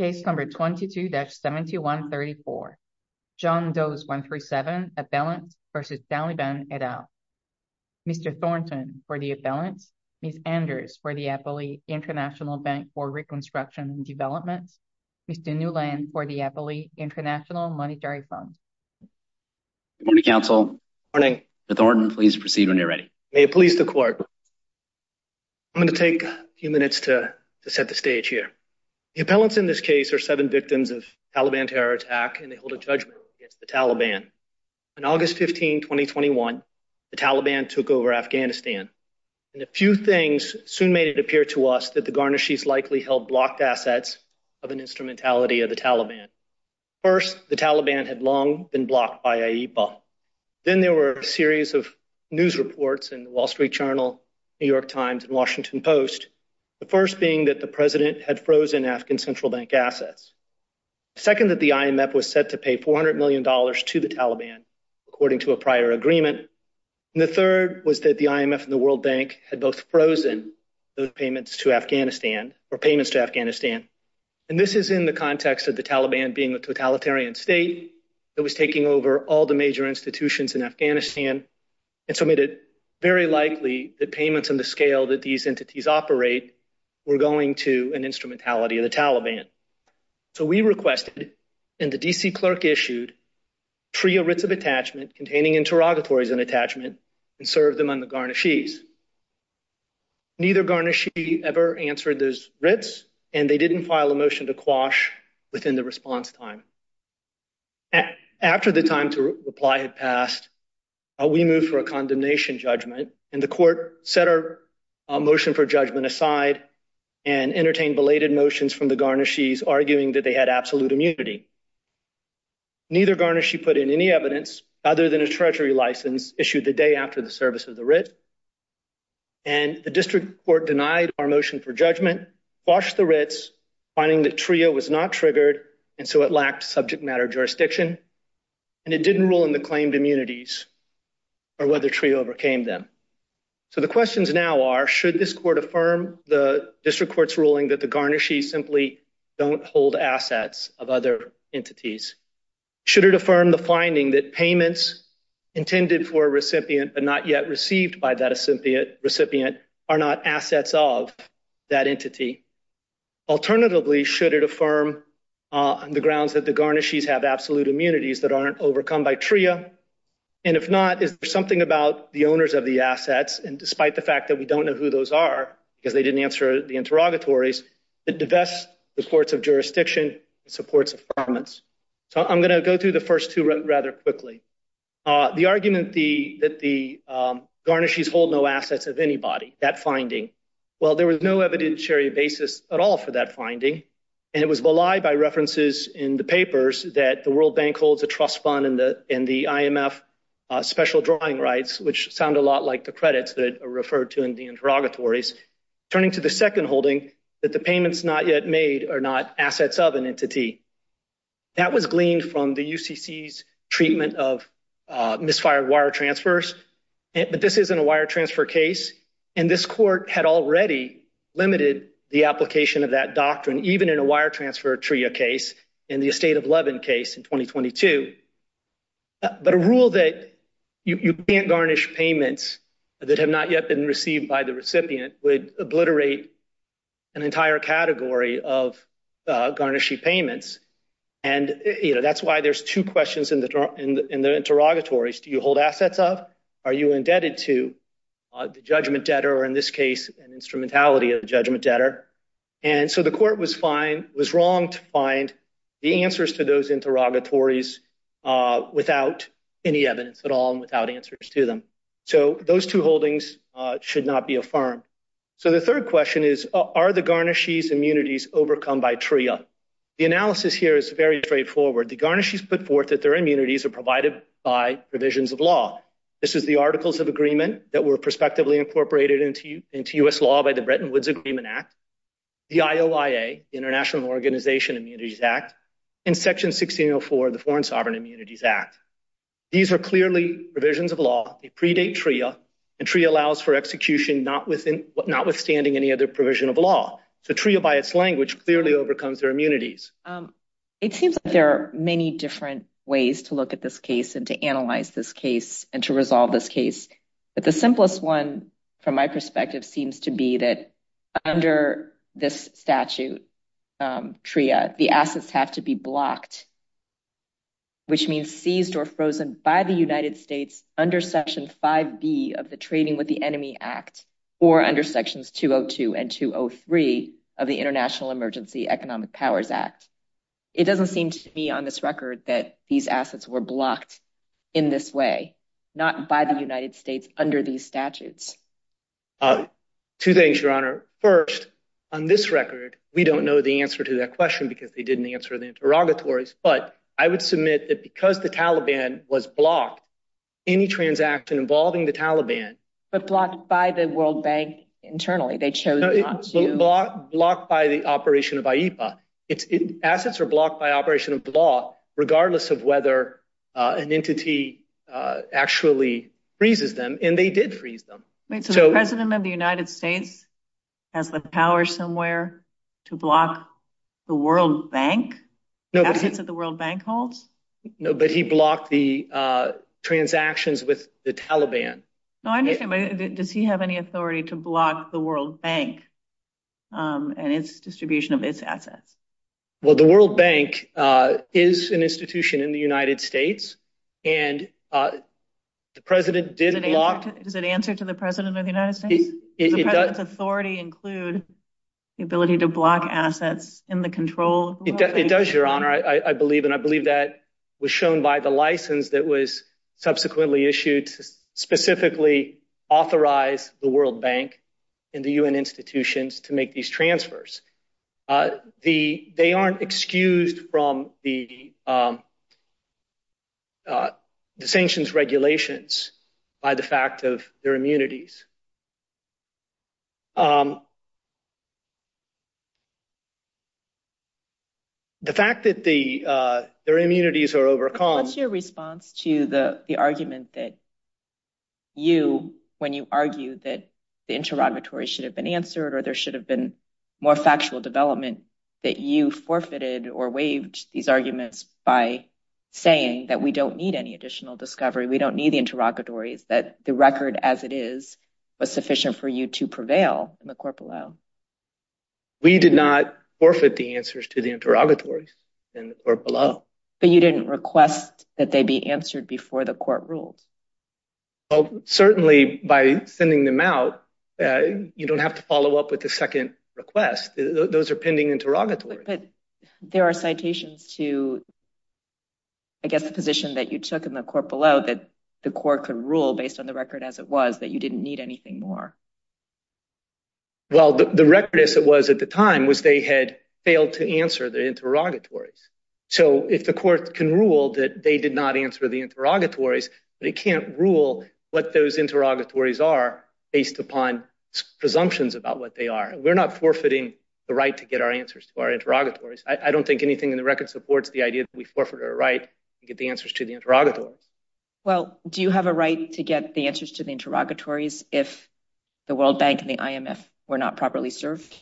22-7134, John Does 1-3-7, Appellant v. Saladin et al., Mr. Thornton for the Appellant, Ms. Anders for the Appellee International Bank for Reconstruction and Development, Mr. Newland for the Appellee International Monetary Fund. Good morning, counsel. Good morning. Mr. Thornton, please proceed when you're ready. May it please the court. I'm going to take a few minutes to set the stage here. The appellants in this case are seven victims of Taliban terror attack, and they hold a judgment against the Taliban. On August 15, 2021, the Taliban took over Afghanistan, and a few things soon made it appear to us that the Garnishes likely held blocked assets of an instrumentality of the Taliban. First, the Taliban had long been blocked by IEPA. Then there were a series of news reports in the Wall Street Journal, New York Times, and Washington Post. The first being that the president had frozen Afghan Central Bank assets. Second, that the IMF was set to pay $400 million to the Taliban, according to a prior agreement. And the third was that the IMF and the World Bank had both frozen those payments to Afghanistan or payments to Afghanistan. And this is in the context of the Taliban being a totalitarian state that was taking over all the major institutions in Afghanistan, and so made it very likely that payments on the scale that these entities operate were going to an instrumentality of the Taliban. So we requested, and the D.C. clerk issued, free a writ of attachment containing interrogatories and attachment and serve them on the Garnishes. Neither Garnishes ever answered those writs, and they didn't file a motion to quash within the response time. After the time to reply had passed, we moved for a condemnation judgment, and the court set our motion for judgment aside and entertained belated notions from the Garnishes arguing that they had absolute immunity. Neither Garnishe put in any evidence other than a treasury license issued the day after the service of the writ, and the district court denied our motion for judgment, quashed the writs, finding that TRIO was not triggered, and so it lacked subject matter jurisdiction, and it didn't rule in the claimed immunities or whether TRIO overcame them. So the questions now are, should this court affirm the district court's ruling that the Garnishes simply don't hold assets of other entities? Should it affirm the finding that payments intended for a recipient but not yet received by that recipient are not assets of that entity? Alternatively, should it affirm the grounds that the Garnishes have absolute immunities that aren't overcome by TRIO? And if not, is there something about the owners of the assets, and despite the fact that we don't know who those are because they didn't answer the interrogatories, that divests the courts of jurisdiction and supports affirmance? So I'm going to go through the first two rather quickly. The argument that the Garnishes hold no assets of anybody, that finding, well, there was no evidentiary basis at all for that finding, and it was belied by references in the papers that the World Bank holds a trust fund in the IMF special drawing rights, which sound a lot like the credits that are referred to in the interrogatories, turning to the second holding that the payments not yet made are not assets of an entity. That was gleaned from the UCC's treatment of misfired wire transfers, but this isn't a wire transfer case, and this court had already limited the application of that doctrine, even in a wire transfer TRIO case, in the estate of Levin case in 2022. But a rule that you can't garnish payments that have not yet been received by the recipient would obliterate an entire category of garnishing payments, and that's why there's two questions in the interrogatories. Do you hold assets of, are you indebted to the judgment debtor, or in this case, an instrumentality of the judgment debtor? And so the court was wrong to find the answers to those interrogatories without any evidence at all and without answers to them. So those two holdings should not be affirmed. So the third question is, are the garnishees' immunities overcome by TRIO? The analysis here is very straightforward. The garnishees put forth that their immunities are provided by provisions of law. This is the Articles of Agreement that were prospectively incorporated into U.S. law by the Bretton Woods Agreement Act, the IOIA, International Organization Immunities Act, and Section 1604, the Foreign Sovereign Immunities Act. These are clearly provisions of law. They predate TRIO, and TRIO allows for execution notwithstanding any other provision of law. So TRIO, by its language, clearly overcomes their immunities. It seems like there are many different ways to look at this case and to analyze this case and to resolve this case. But the simplest one, from my perspective, seems to be that under this statute, TRIO, the assets have to be blocked, which means seized or frozen by the United States under Section 5B of the Trading with the Enemy Act or under Sections 202 and 203 of the International Emergency Economic Powers Act. It doesn't seem to me on this record that these assets were blocked in this way, not by the United States, under these statutes. Two things, Your Honor. First, on this record, we don't know the answer to that question because they didn't answer the interrogatories, but I would submit that because the Taliban was blocked, any transaction involving the Taliban- But blocked by the World Bank internally. They chose not to- Blocked by the operation of IEFA. Assets are blocked by operation of the law, regardless of whether an entity actually freezes them, and they did freeze them. Wait, so the President of the United States has the power somewhere to block the World Bank, assets that the World Bank holds? No, but he blocked the transactions with the Taliban. No, I'm just saying, does he have any authority to block the World Bank and its distribution of its assets? Well, the World Bank is an institution in the United States, and the President did block- Does it answer to the President of the United States? It does- Does the President's authority include the ability to block assets in the control- It does, Your Honor, I believe, and I believe that was shown by the license that was subsequently issued to specifically authorize the World Bank and the UN institutions to make these transfers. They aren't excused from the sanctions regulations by the fact of their immunities. The fact that their immunities are overcome- What's your response to the argument that you, when you argue that the interrogatories should have been answered or there should have been more factual development, that you forfeited or waived these arguments by saying that we don't need any additional discovery, we don't need the interrogatories, that the record as it is was sufficient for you to prevail in the court below? We did not forfeit the answers to the interrogatories in the court below. But you didn't request that they be answered before the court ruled. Well, certainly by sending them out, you don't have to follow up with the second request. Those are pending interrogatories. But there are citations to, I guess, a position that you took in the court below that the court could rule based on the record as it was that you didn't need anything more. Well, the record as it was at the time was they had failed to answer the interrogatories. So if the court can rule that they did not answer the interrogatories, but it can't rule what those interrogatories are based upon presumptions about what they are. We're not forfeiting the right to get our answers to our interrogatories. I don't think anything in the record supports the idea that we forfeit our right to get the answers to the interrogatory. Well, do you have a right to get the answers to the interrogatories if the World Bank and the IMF were not properly served?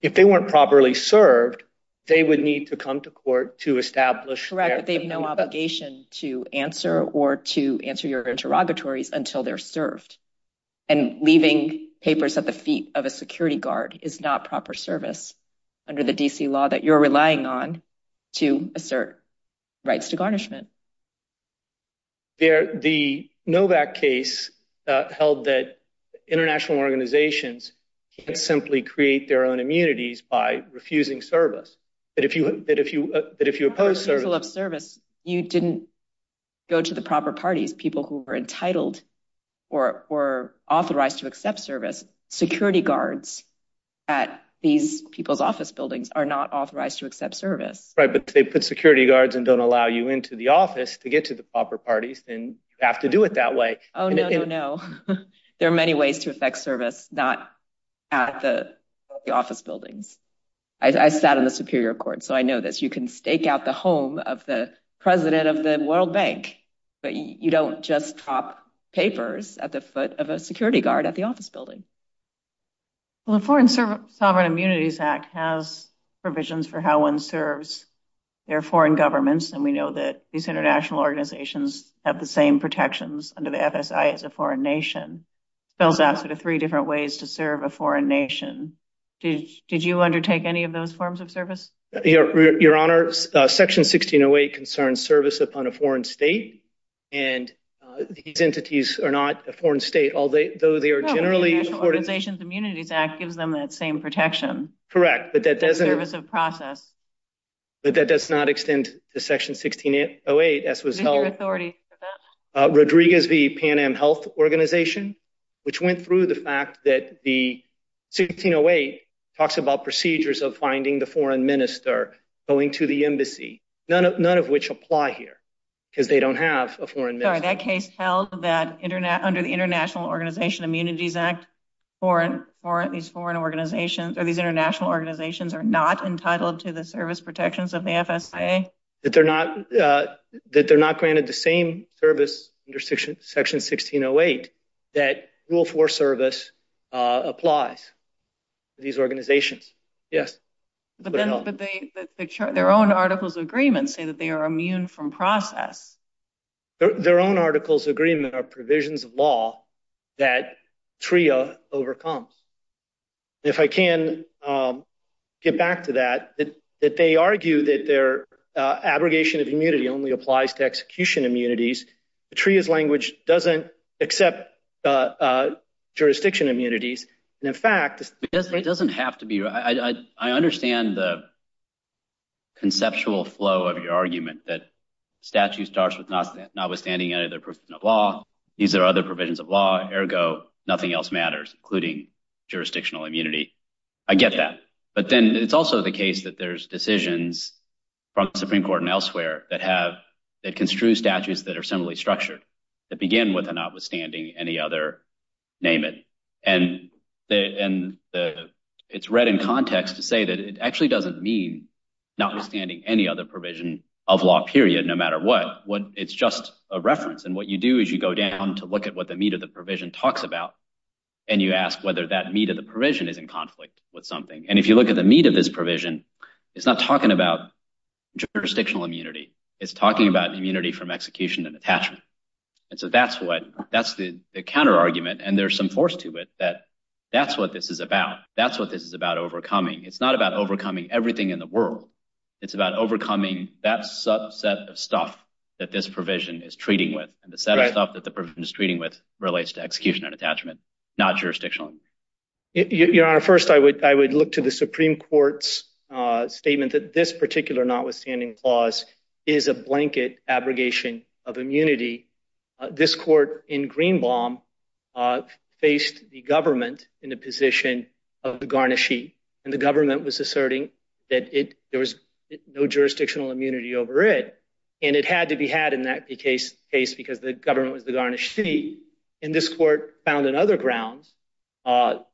If they weren't properly served, they would need to come to court to establish- Right, but they have no obligation to answer or to answer your interrogatories until they're served. And leaving papers at the feet of a security guard is not proper service under the DC law that you're relying on to assert rights to garnishment. The Novak case held that international organizations can't simply create their own immunities by refusing service. But if you oppose service- In the case of service, you didn't go to the proper parties, people who were entitled or authorized to accept service. Security guards at these people's office buildings are not authorized to accept service. Right, but they put security guards and don't allow you into the office. To get to the proper parties, then you have to do it that way. Oh, no, no, no. There are many ways to affect service, not at the office building. I've sat on the Superior Court, so I know this. You can stake out the home of the president of the World Bank, but you don't just drop papers at the foot of a security guard at the office building. Well, the Foreign Sovereign Immunities Act has provisions for how one serves their foreign governments, and we know that these international organizations have the same protections under the FSI as a foreign nation. Spells out sort of three different ways to serve a foreign nation. Did you undertake any of those forms of service? Your Honor, Section 1608 concerns service upon a foreign state, and these entities are not a foreign state, although they are generally- The Organizations Immunities Act gives them that same protection. Correct, but that doesn't- Service of process. But that does not extend to Section 1608 as a result. No new authorities for that. Rodriguez v. Pan Am Health Organization, which went through the fact that the 1608 talks about procedures of finding the foreign minister going to the embassy, none of which apply here, because they don't have a foreign minister. Sorry, that case tells that under the International Organization Immunities Act, these foreign international organizations are not entitled to the service protections of the FSIA? That they're not granted the same service under Section 1608 that rule four service applies to these organizations. Yes. Their own articles of agreement say that they are immune from process. Their own articles of agreement are provisions of law that TRIA overcomes. If I can get back to that, that they argue that their abrogation of immunity only applies to execution immunities. The TRIA's language doesn't accept jurisdiction immunities. In fact- It doesn't have to be. I understand the conceptual flow of your argument that statute starts with notwithstanding any other provision of law. These are other provisions of law. Nothing else matters, including jurisdictional immunity. I get that. But then it's also the case that there's decisions from the Supreme Court and elsewhere that construe statutes that are similarly structured, that begin with a notwithstanding any other, name it. It's read in context to say that it actually doesn't mean notwithstanding any other provision of law, period, no matter what. It's just a reference. And what you do is you go down to look at what the meat of the provision talks about, and you ask whether that meat of the provision is in conflict with something. And if you look at the meat of this provision, it's not talking about jurisdictional immunity. It's talking about immunity from execution and attachment. And so that's the counter argument. And there's some force to it that that's what this is about. That's what this is about overcoming. It's not about overcoming everything in the world. It's about overcoming that subset of stuff that this provision is treating with. And the set of stuff that the provision is treating with relates to execution and attachment, not jurisdictional immunity. Your Honor, first, I would look to the Supreme Court's statement that this particular notwithstanding clause is a blanket abrogation of immunity. This court in Greenbaum faced the government in the position of the garnishee. And the government was asserting that there was no jurisdictional immunity over it. And it had to be had in that case because the government was the garnishee. And this court found on other grounds that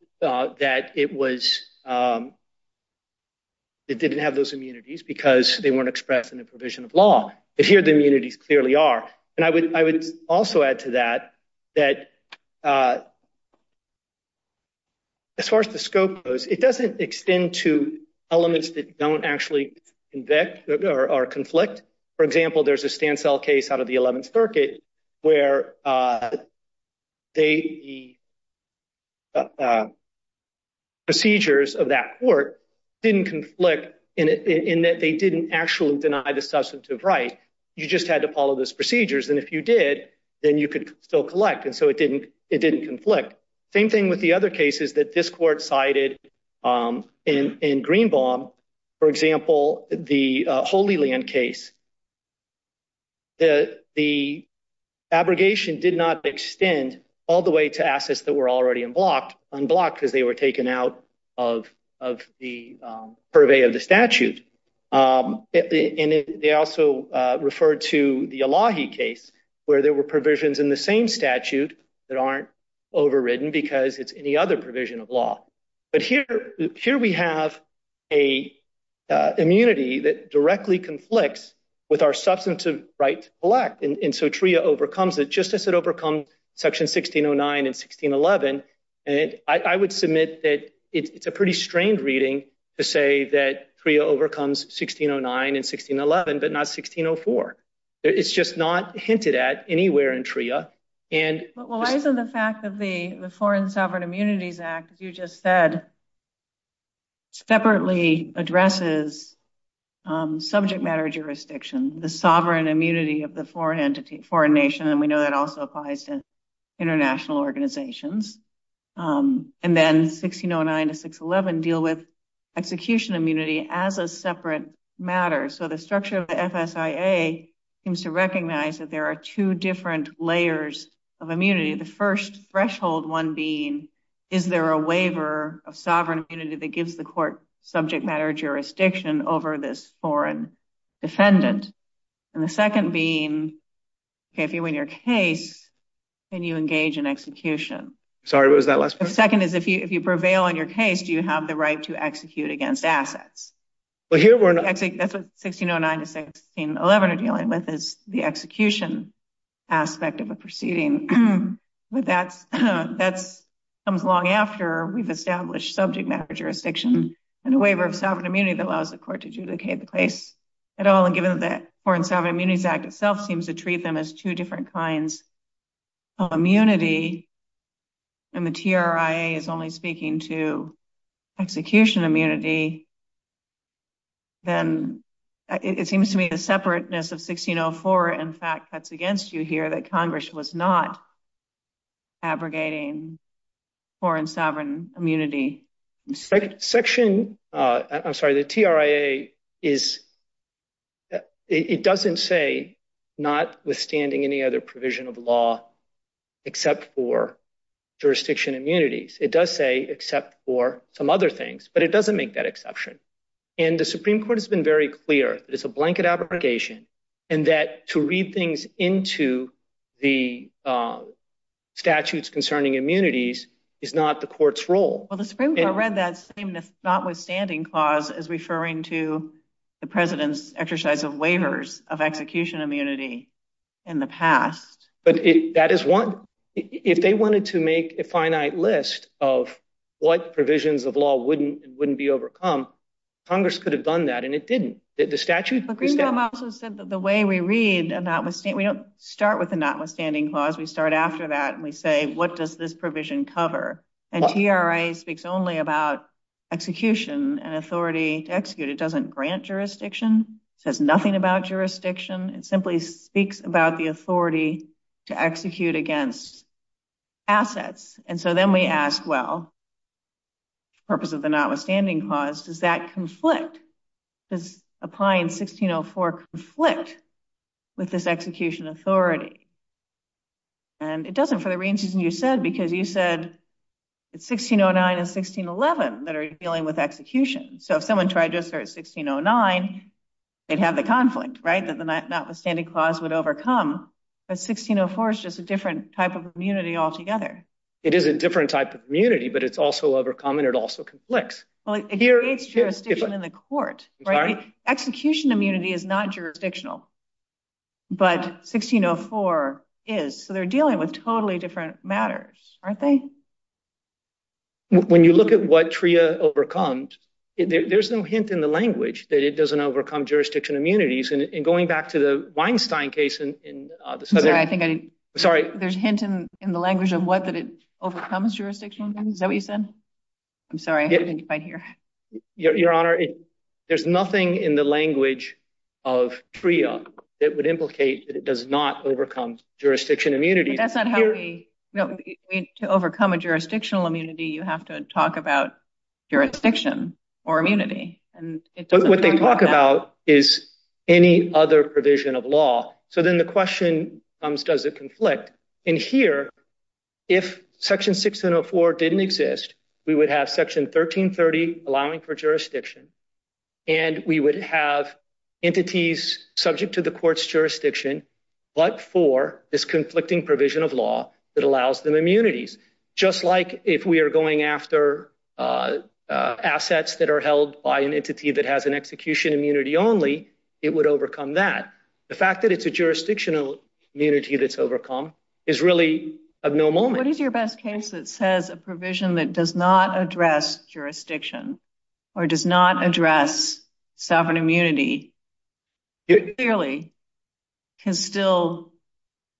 it didn't have those immunities because they weren't expressed in the provision of law. But here the immunities clearly are. And I would also add to that that as far as the scope goes, it doesn't extend to elements that don't actually convict or conflict. For example, there's a Stansell case out of the 11th Circuit where the procedures of that court didn't conflict in that they didn't actually deny the substantive right. You just had to follow those procedures. And if you did, then you could still collect. And so it didn't conflict. Same thing with the other cases that this court cited in Greenbaum. For example, the Holy Land case. The abrogation did not extend all the way to assets that were already unblocked because they were taken out of the purvey of the statute. And they also referred to the Elahi case where there were provisions in the same statute that aren't overridden because it's any other provision of law. But here we have an immunity that directly conflicts with our substantive right to collect. And so TRIA overcomes it. Just as it overcomes Section 1609 and 1611. I would submit that it's a pretty strange reading to say that TRIA overcomes 1609 and 1611, but not 1604. It's just not hinted at anywhere in TRIA. But relies on the fact of the Foreign Sovereign Immunities Act, as you just said, separately addresses subject matter jurisdiction, the sovereign immunity of the foreign nation. And we know that also applies to international organizations. And then 1609 to 611 deal with execution immunity as a separate matter. So the structure of the FSIA seems to recognize that there are two different layers of immunity. The first threshold, one being, is there a waiver of sovereign immunity that gives the court subject matter jurisdiction over this foreign defendant? And the second being, if you win your case, can you engage in execution? Sorry, what was that last part? The second is, if you prevail in your case, do you have the right to execute against assets? Well, here we're not... I think that's what 1609 to 1611 are dealing with, is the execution aspect of a proceeding. With that, that's something long after we've established subject matter jurisdiction and a waiver of sovereign immunity that allows the court to adjudicate the case at all. And given that Foreign Sovereign Immunities Act itself seems to treat them as two different kinds of immunity, and the TRIA is only speaking to execution immunity, then it seems to me the separateness of 1604, in fact, cuts against you here that Congress was not abrogating Foreign Sovereign Immunity. The TRIA, it doesn't say, notwithstanding any other provision of law, except for jurisdiction immunities. It does say, except for some other things, but it doesn't make that exception. And the Supreme Court has been very clear, it's a blanket abrogation, and that to read things into the statutes concerning immunities is not the court's role. Well, the Supreme Court read that same notwithstanding clause as referring to the President's exercise of waivers of execution immunity in the past. But that is one, if they wanted to make a finite list of what provisions of law wouldn't be overcome, Congress could have done that, and it didn't. The statute... The Supreme Court also said that the way we read notwithstanding, we don't start with the notwithstanding clause, we start after that, and we say, what does this provision cover? And TRIA speaks only about execution and authority to execute. It doesn't grant jurisdiction, it says nothing about jurisdiction, it simply speaks about the authority to execute against assets. And so then we ask, well, the purpose of the notwithstanding clause, does that conflict, does applying 1604 conflict with this execution authority? And it doesn't for the reasons you said, because you said, it's 1609 and 1611 that are dealing with execution. So if someone tried to refer to 1609, they'd have a conflict, right, that the notwithstanding clause would overcome, but 1604 is just a different type of immunity altogether. It is a different type of immunity, but it's also overcome and it also conflicts. Well, it creates jurisdiction in the court, right? But 1604 is, so they're dealing with totally different matters, aren't they? When you look at what TRIA overcomes, there's no hint in the language that it doesn't overcome jurisdiction immunities. And going back to the Weinstein case in the South, sorry. There's a hint in the language of what that it overcomes jurisdiction, is that what you said? I'm sorry, I didn't quite hear. Your Honor, there's nothing in the language of TRIA that would implicate that it does not overcome jurisdiction immunity. To overcome a jurisdictional immunity, you have to talk about jurisdiction or immunity. What they talk about is any other provision of law. So then the question comes, does it conflict? And here, if section 1604 didn't exist, we would have section 1330 allowing for jurisdiction. And we would have entities subject to the court's jurisdiction, but for this conflicting provision of law that allows them immunities. Just like if we are going after assets that are held by an entity that has an execution immunity only, it would overcome that. The fact that it's a jurisdictional immunity that's overcome is really of no moment. What is your best case that says a provision that does not address jurisdiction or does not address sovereign immunity clearly can still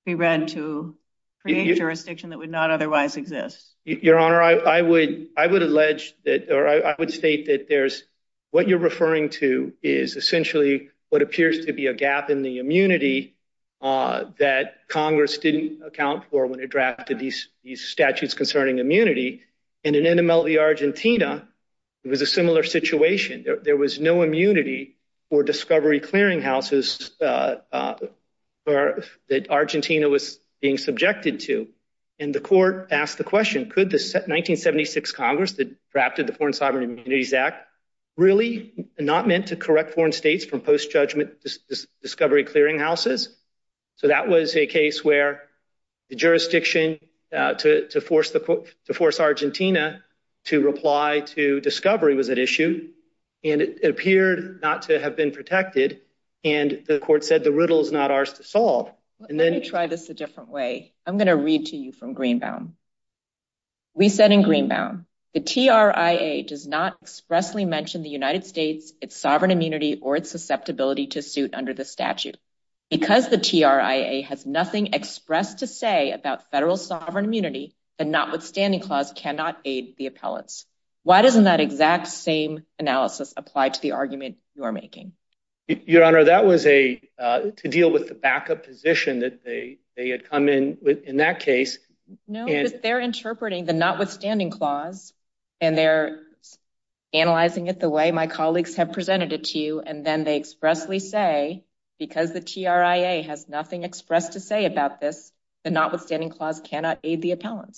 be read to create jurisdiction that would not otherwise exist? Your Honor, I would allege that, or I would state that there's, what you're referring to is essentially what appears to be a gap in the immunity that Congress didn't account for when it drafted these statutes concerning immunity. In an NMLV Argentina, it was a similar situation. There was no immunity for discovery clearinghouses that Argentina was being subjected to. And the court asked the question, could the 1976 Congress that drafted the Foreign Sovereign Immunities Act really not meant to correct foreign states from post-judgment discovery clearinghouses? So that was a case where the jurisdiction to force Argentina to reply to discovery was at issue, and it appeared not to have been protected, and the court said the riddle is not ours to solve. Let me try this a different way. I'm going to read to you from Greenbound. We said in Greenbound, the TRIA does not expressly mention the United States, its sovereign immunity or its susceptibility to suit under the statute. Because the TRIA has nothing expressed to say about federal sovereign immunity, the notwithstanding clause cannot aid the appellate. Why doesn't that exact same analysis apply to the argument you're making? Your Honor, that was to deal with the backup position that they had come in with in that case. No, they're interpreting the notwithstanding clause, and they're analyzing it the way my colleagues have presented it to you, and then they expressly say, because the TRIA has nothing expressed to say about this, the notwithstanding clause cannot aid the appellant.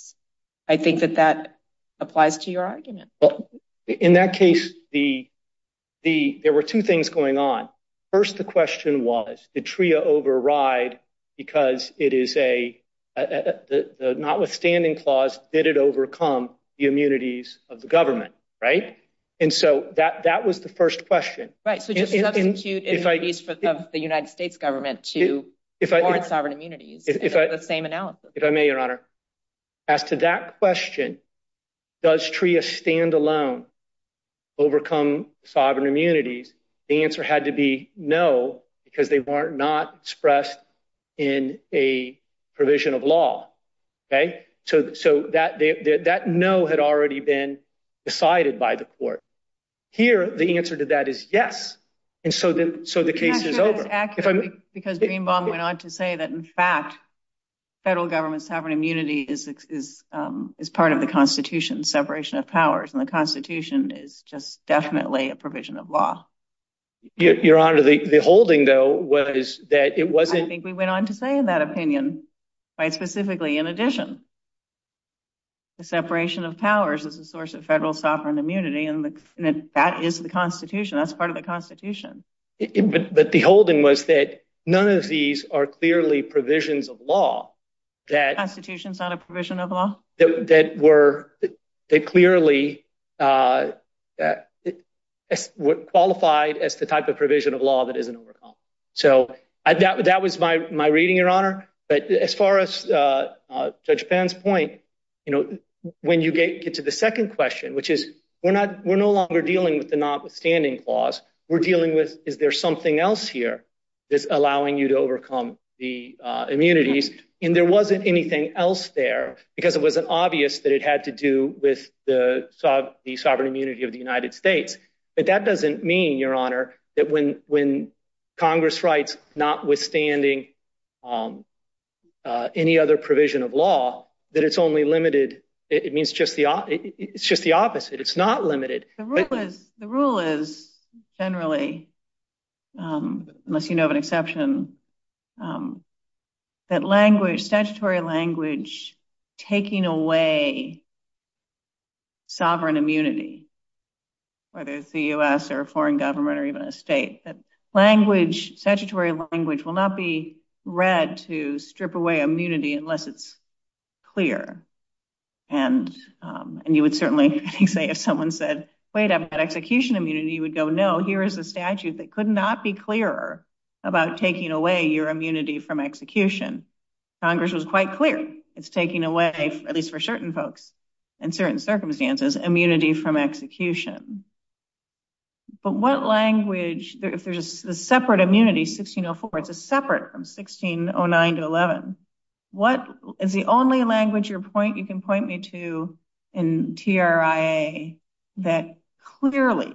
I think that that applies to your argument. Well, in that case, there were two things going on. First, the question was, did TRIA override because it is a, the notwithstanding clause, did it overcome the immunities of the government? Right? And so that was the first question. Right. So just because it's used in the speech of the United States government to support sovereign immunity, it's the same analysis. If I may, Your Honor, as to that question, does TRIA stand alone overcome sovereign immunities, the answer had to be no, because they weren't not expressed in a provision of law. Okay. So that no had already been decided by the court. Here, the answer to that is yes. And so the case is over. Because Greenbaum went on to say that, in fact, federal government sovereign immunity is part of the Constitution's separation of powers, and the Constitution is just definitely a provision of law. Your Honor, the holding, though, was that it wasn't... I think we went on to say in that opinion, quite specifically, in addition, the separation of powers is a source of federal sovereign immunity, and that is the Constitution. That's part of the Constitution. But the holding was that none of these are clearly provisions of law that... The Constitution's not a provision of law? That clearly would qualify as the type of provision of law that isn't overcome. So that was my reading, Your Honor. But as far as Judge Penn's point, when you get to the second question, which is, we're no longer dealing with the notwithstanding clause. We're dealing with, is there something else here that's allowing you to overcome the And there wasn't anything else there, because it wasn't obvious that it had to do with the sovereign immunity of the United States. But that doesn't mean, Your Honor, that when Congress writes notwithstanding any other provision of law, that it's only limited... It means it's just the opposite. It's not limited. The rule is generally, unless you know of an exception, that statutory language taking away sovereign immunity, whether it's the US or a foreign government or even a state, that statutory language will not be read to strip away immunity unless it's clear. And you would certainly say, if someone said, wait, I've got execution immunity, you would go, no, here is a statute that could not be clearer about taking away your immunity from execution. Congress was quite clear. It's taking away, at least for certain folks in certain circumstances, immunity from execution. But what language, if there's a separate immunity, 1604, it's separate from 1609 to you can point me to in TRIA that clearly,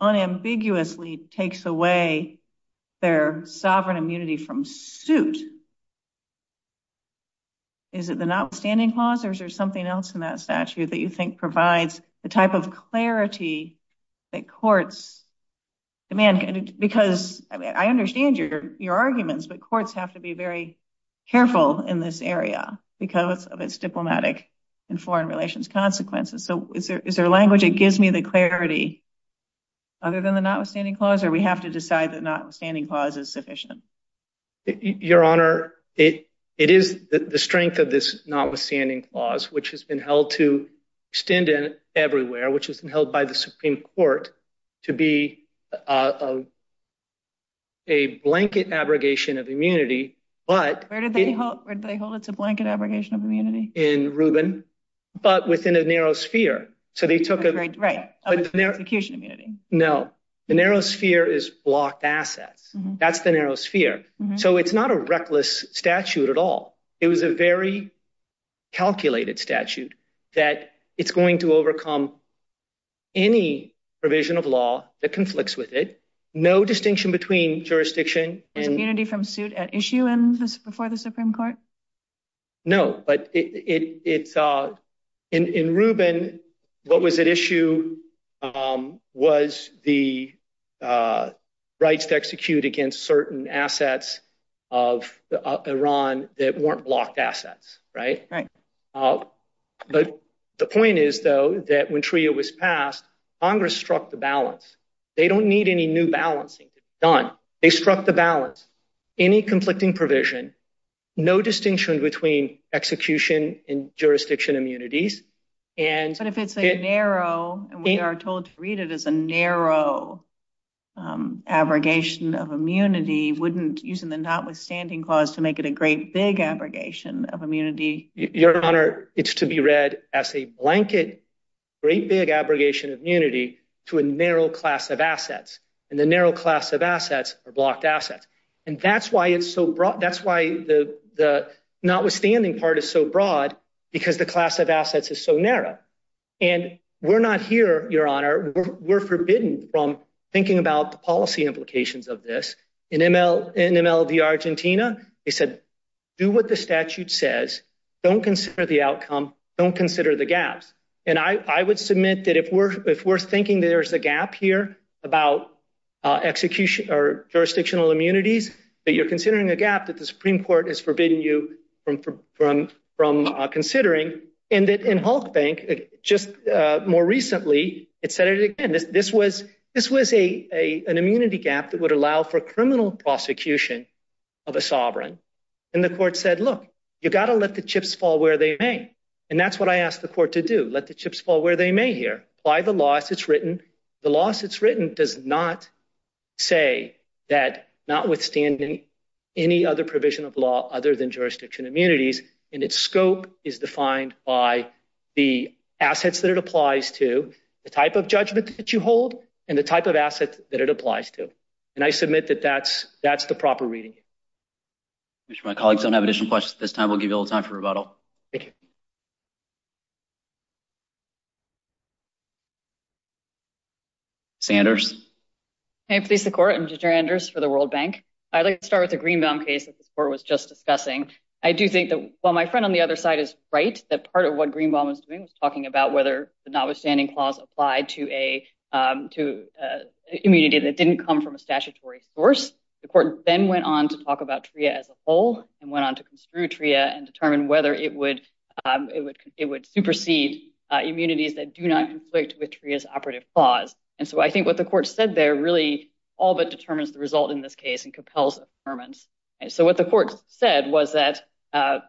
unambiguously takes away their sovereign immunity from suit. Is it the notwithstanding clause or is there something else in that statute that you think provides the type of clarity that courts demand? Because I understand your arguments, but courts have to be very careful in this area because of its diplomatic and foreign relations consequences. So is there a language that gives me the clarity other than the notwithstanding clause, or we have to decide that notwithstanding clause is sufficient? Your Honor, it is the strength of this notwithstanding clause, which has been held to extend it everywhere, which has been held by the Supreme Court to be a blanket abrogation of immunity. Where did they hold it? It's a blanket abrogation of immunity. In Rubin, but within a narrow sphere. So they took a... Right, execution immunity. No, the narrow sphere is blocked assets. That's the narrow sphere. So it's not a reckless statute at all. It was a very calculated statute that it's going to overcome any provision of law that conflicts with it. No distinction between jurisdiction and... Immunity from suit at issue before the Supreme Court? No, but in Rubin, what was at issue was the rights to execute against certain assets of Iran that weren't blocked assets, right? Right. But the point is, though, that when TRIA was passed, Congress struck the balance. They don't need any new balancing to be done. They struck the balance. Any conflicting provision, no distinction between execution and jurisdiction immunities, and... But if it's a narrow, and we are told to read it as a narrow abrogation of immunity, wouldn't using the notwithstanding clause to make it a great big abrogation of immunity? Your Honor, it's to be read as a blanket, great big abrogation of immunity to a narrow class of assets. And the narrow class of assets are blocked assets. And that's why it's so broad. That's why the notwithstanding part is so broad, because the class of assets is so narrow. And we're not here, Your Honor, we're forbidden from thinking about the policy implications of this. In MLV Argentina, they said, do what the statute says. Don't consider the outcome. Don't consider the gaps. And I would submit that if we're thinking there's a gap here about jurisdictional immunities, that you're considering the gap that the Supreme Court is forbidding you from considering. And in Hulk Bank, just more recently, it said it again, that this was an immunity gap that would allow for criminal prosecution of a sovereign. And the court said, look, you've got to let the chips fall where they may. And that's what I asked the court to do, let the chips fall where they may here. By the law as it's written. The law as it's written does not say that notwithstanding any other provision of law other than jurisdiction immunities, and its scope is defined by the assets that it applies to, the type of judgment that you hold, and the type of assets that it applies to. And I submit that that's the proper reading. I'm sure my colleagues don't have additional questions at this time. We'll give you a little time for rebuttal. Thank you. Sanders. I'm Sandra Sanders for the World Bank. I'd like to start with the Greenbaum case that the court was just discussing. I do think that while my friend on the other side is right, that part of what Greenbaum is doing is talking about whether the notwithstanding clause applied to a that didn't come from a statutory source. The court then went on to talk about TRIA as a whole and went on to construe TRIA and determine whether it would supersede immunities that do not conflict with TRIA's operative clause. And so I think what the court said there really all but determines the result in this case and compels a determent. And so what the court said was that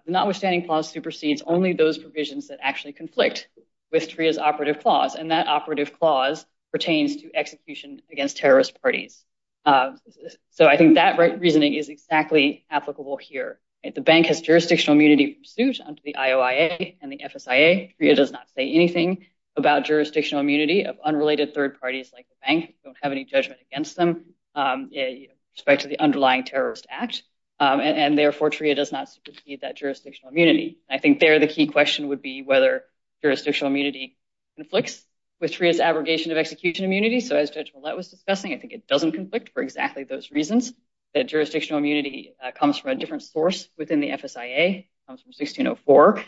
notwithstanding clause supersedes only those provisions that actually conflict with TRIA's operative clause. And that operative clause pertains to execution against terrorist parties. So I think that reasoning is exactly applicable here. The bank has jurisdictional immunity pursuant to the IOIA and the FSIA. TRIA does not say anything about jurisdictional immunity of unrelated third parties like the bank. Don't have any judgment against them in respect to the underlying terrorist act. And therefore, TRIA does not supersede that jurisdictional immunity. I think there the key question would be whether jurisdictional immunity conflicts with TRIA's abrogation of execution immunity. So as Judge Ouellette was discussing, I think it doesn't conflict for exactly those reasons. That jurisdictional immunity comes from a different source within the FSIA, comes from 1604.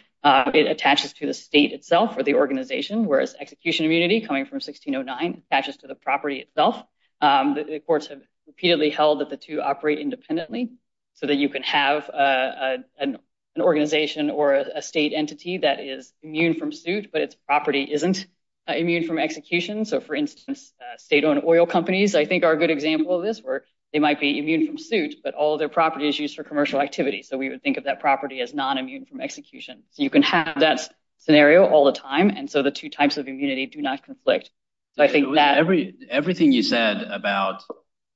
It attaches to the state itself or the organization, whereas execution immunity coming from 1609 attaches to the property itself. The courts have repeatedly held that the two operate independently so that you can have an organization or a state entity that is immune from suit, but its property isn't immune from execution. So for instance, state-owned oil companies, I think, are a good example of this where they might be immune from suit, but all their property is used for commercial activity. So we would think of that property as non-immune from execution. You can have that scenario all the time. And so the two types of immunity do not conflict. Everything you said about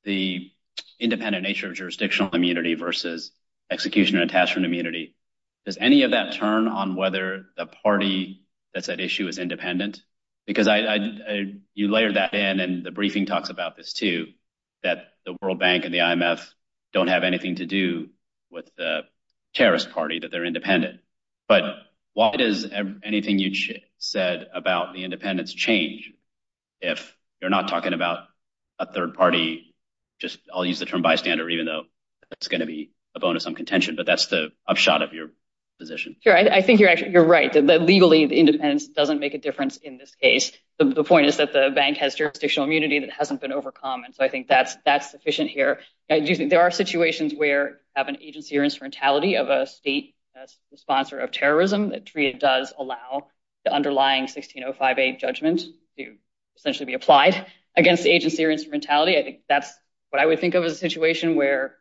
the independent nature of jurisdictional immunity versus execution and attachment immunity, does any of that turn on whether the party that's at issue is independent? Because you layered that in, and the briefing talks about this too, that the World Bank and the IMF don't have anything to do with the terrorist party, that they're independent. But why does anything you said about the independence change if you're not talking about a contention? But that's the upshot of your position. Sure. I think you're right. Legally, the independence doesn't make a difference in this case. The point is that the bank has jurisdictional immunity that hasn't been overcome. And so I think that's sufficient here. And there are situations where you have an agency or instrumentality of a state sponsor of terrorism that does allow the underlying 1605A judgment to essentially be applied against the agency or instrumentality. That's what I would think of as a situation where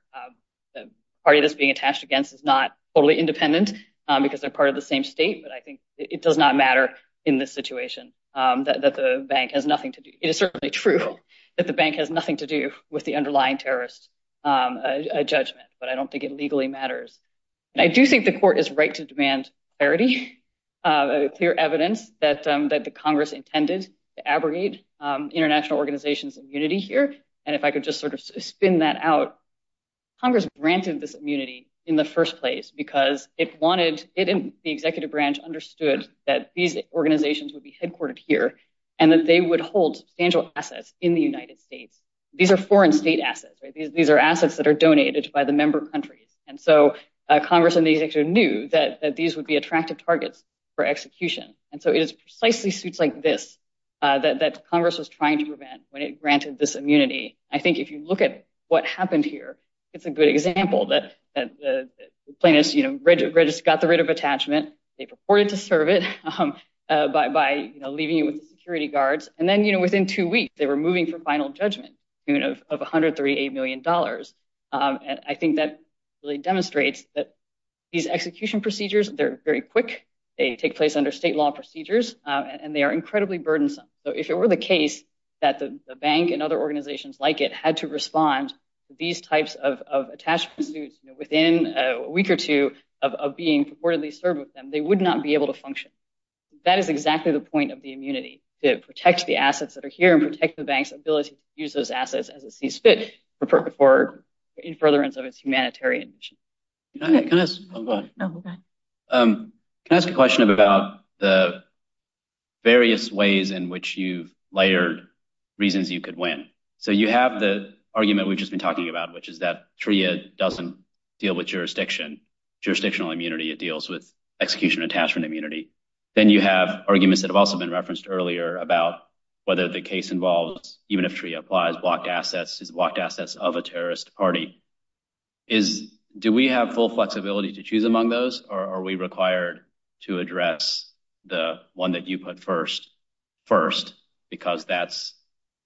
the party that's being attached against is not totally independent because they're part of the same state. But I think it does not matter in this situation that the bank has nothing to do. It is certainly true that the bank has nothing to do with the underlying terrorist judgment, but I don't think it legally matters. I do think the court is right to demand clarity, clear evidence that the Congress intended to abrogate international organizations' immunity here. And if I could just sort of spin that out, Congress granted this immunity in the first place because it wanted, it and the executive branch understood that these organizations would be headquartered here and that they would hold essential assets in the United States. These are foreign state assets. These are assets that are donated by the member country. And so Congress and the executive knew that these would be attractive targets for execution. And so it is precisely suits like this that Congress was trying to prevent when it granted this immunity. I think if you look at what happened here, it's a good example that the plaintiffs got the writ of attachment. They purported to serve it by leaving security guards. And then within two weeks, they were moving to final judgment of $138 million. And I think that really demonstrates that these execution procedures, they're very quick. They take place under state law procedures, and they are incredibly burdensome. So if it were the case that the bank and other organizations like it had to respond to these types of attachments within a week or two of being purportedly served with them, they would not be able to function. That is exactly the point of the immunity, to protect the assets that are here and protect the bank's ability to use those assets as it sees fit for furtherance of its humanitarian mission. Can I ask a question about the various ways in which you layered reasons you could win? So you have the argument we've just been talking about, which is that TRIA doesn't deal with jurisdiction. Jurisdictional immunity, it deals with execution attachment immunity. Then you have arguments that have also been referenced earlier about whether the case involves, even if TRIA applies, blocked assets is blocked assets of a terrorist party. Is, do we have full flexibility to choose among those? Or are we required to address the one that you put first, because that's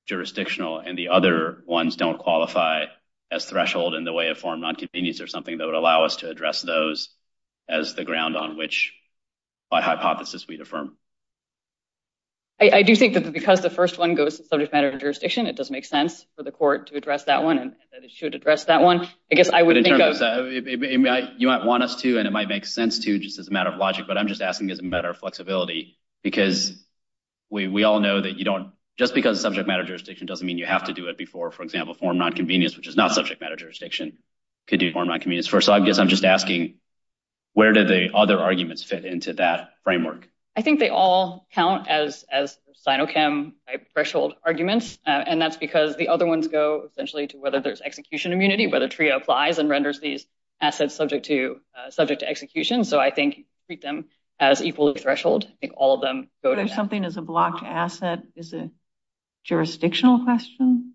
jurisdictional and the other ones don't qualify as threshold in the way of foreign non-convenience or something that would allow us to address those as the ground on which a hypothesis we'd affirm? I do think that because the first one goes to subject matter jurisdiction, it does make for the court to address that one. And that it should address that one. I guess I would think that you might want us to, and it might make sense to just as a matter of logic, but I'm just asking, is it better flexibility? Because we all know that you don't, just because subject matter jurisdiction doesn't mean you have to do it before, for example, foreign non-convenience, which is not subject matter jurisdiction could do foreign non-convenience first. So I guess I'm just asking, where did the other arguments fit into that framework? I think they all count as Sinochem threshold arguments. And that's because the other ones go essentially to whether there's execution immunity, whether TRIA applies and renders these assets subject to execution. So I think you treat them as equal to threshold. I think all of them go to that. Whether something is a blocked asset is a jurisdictional question?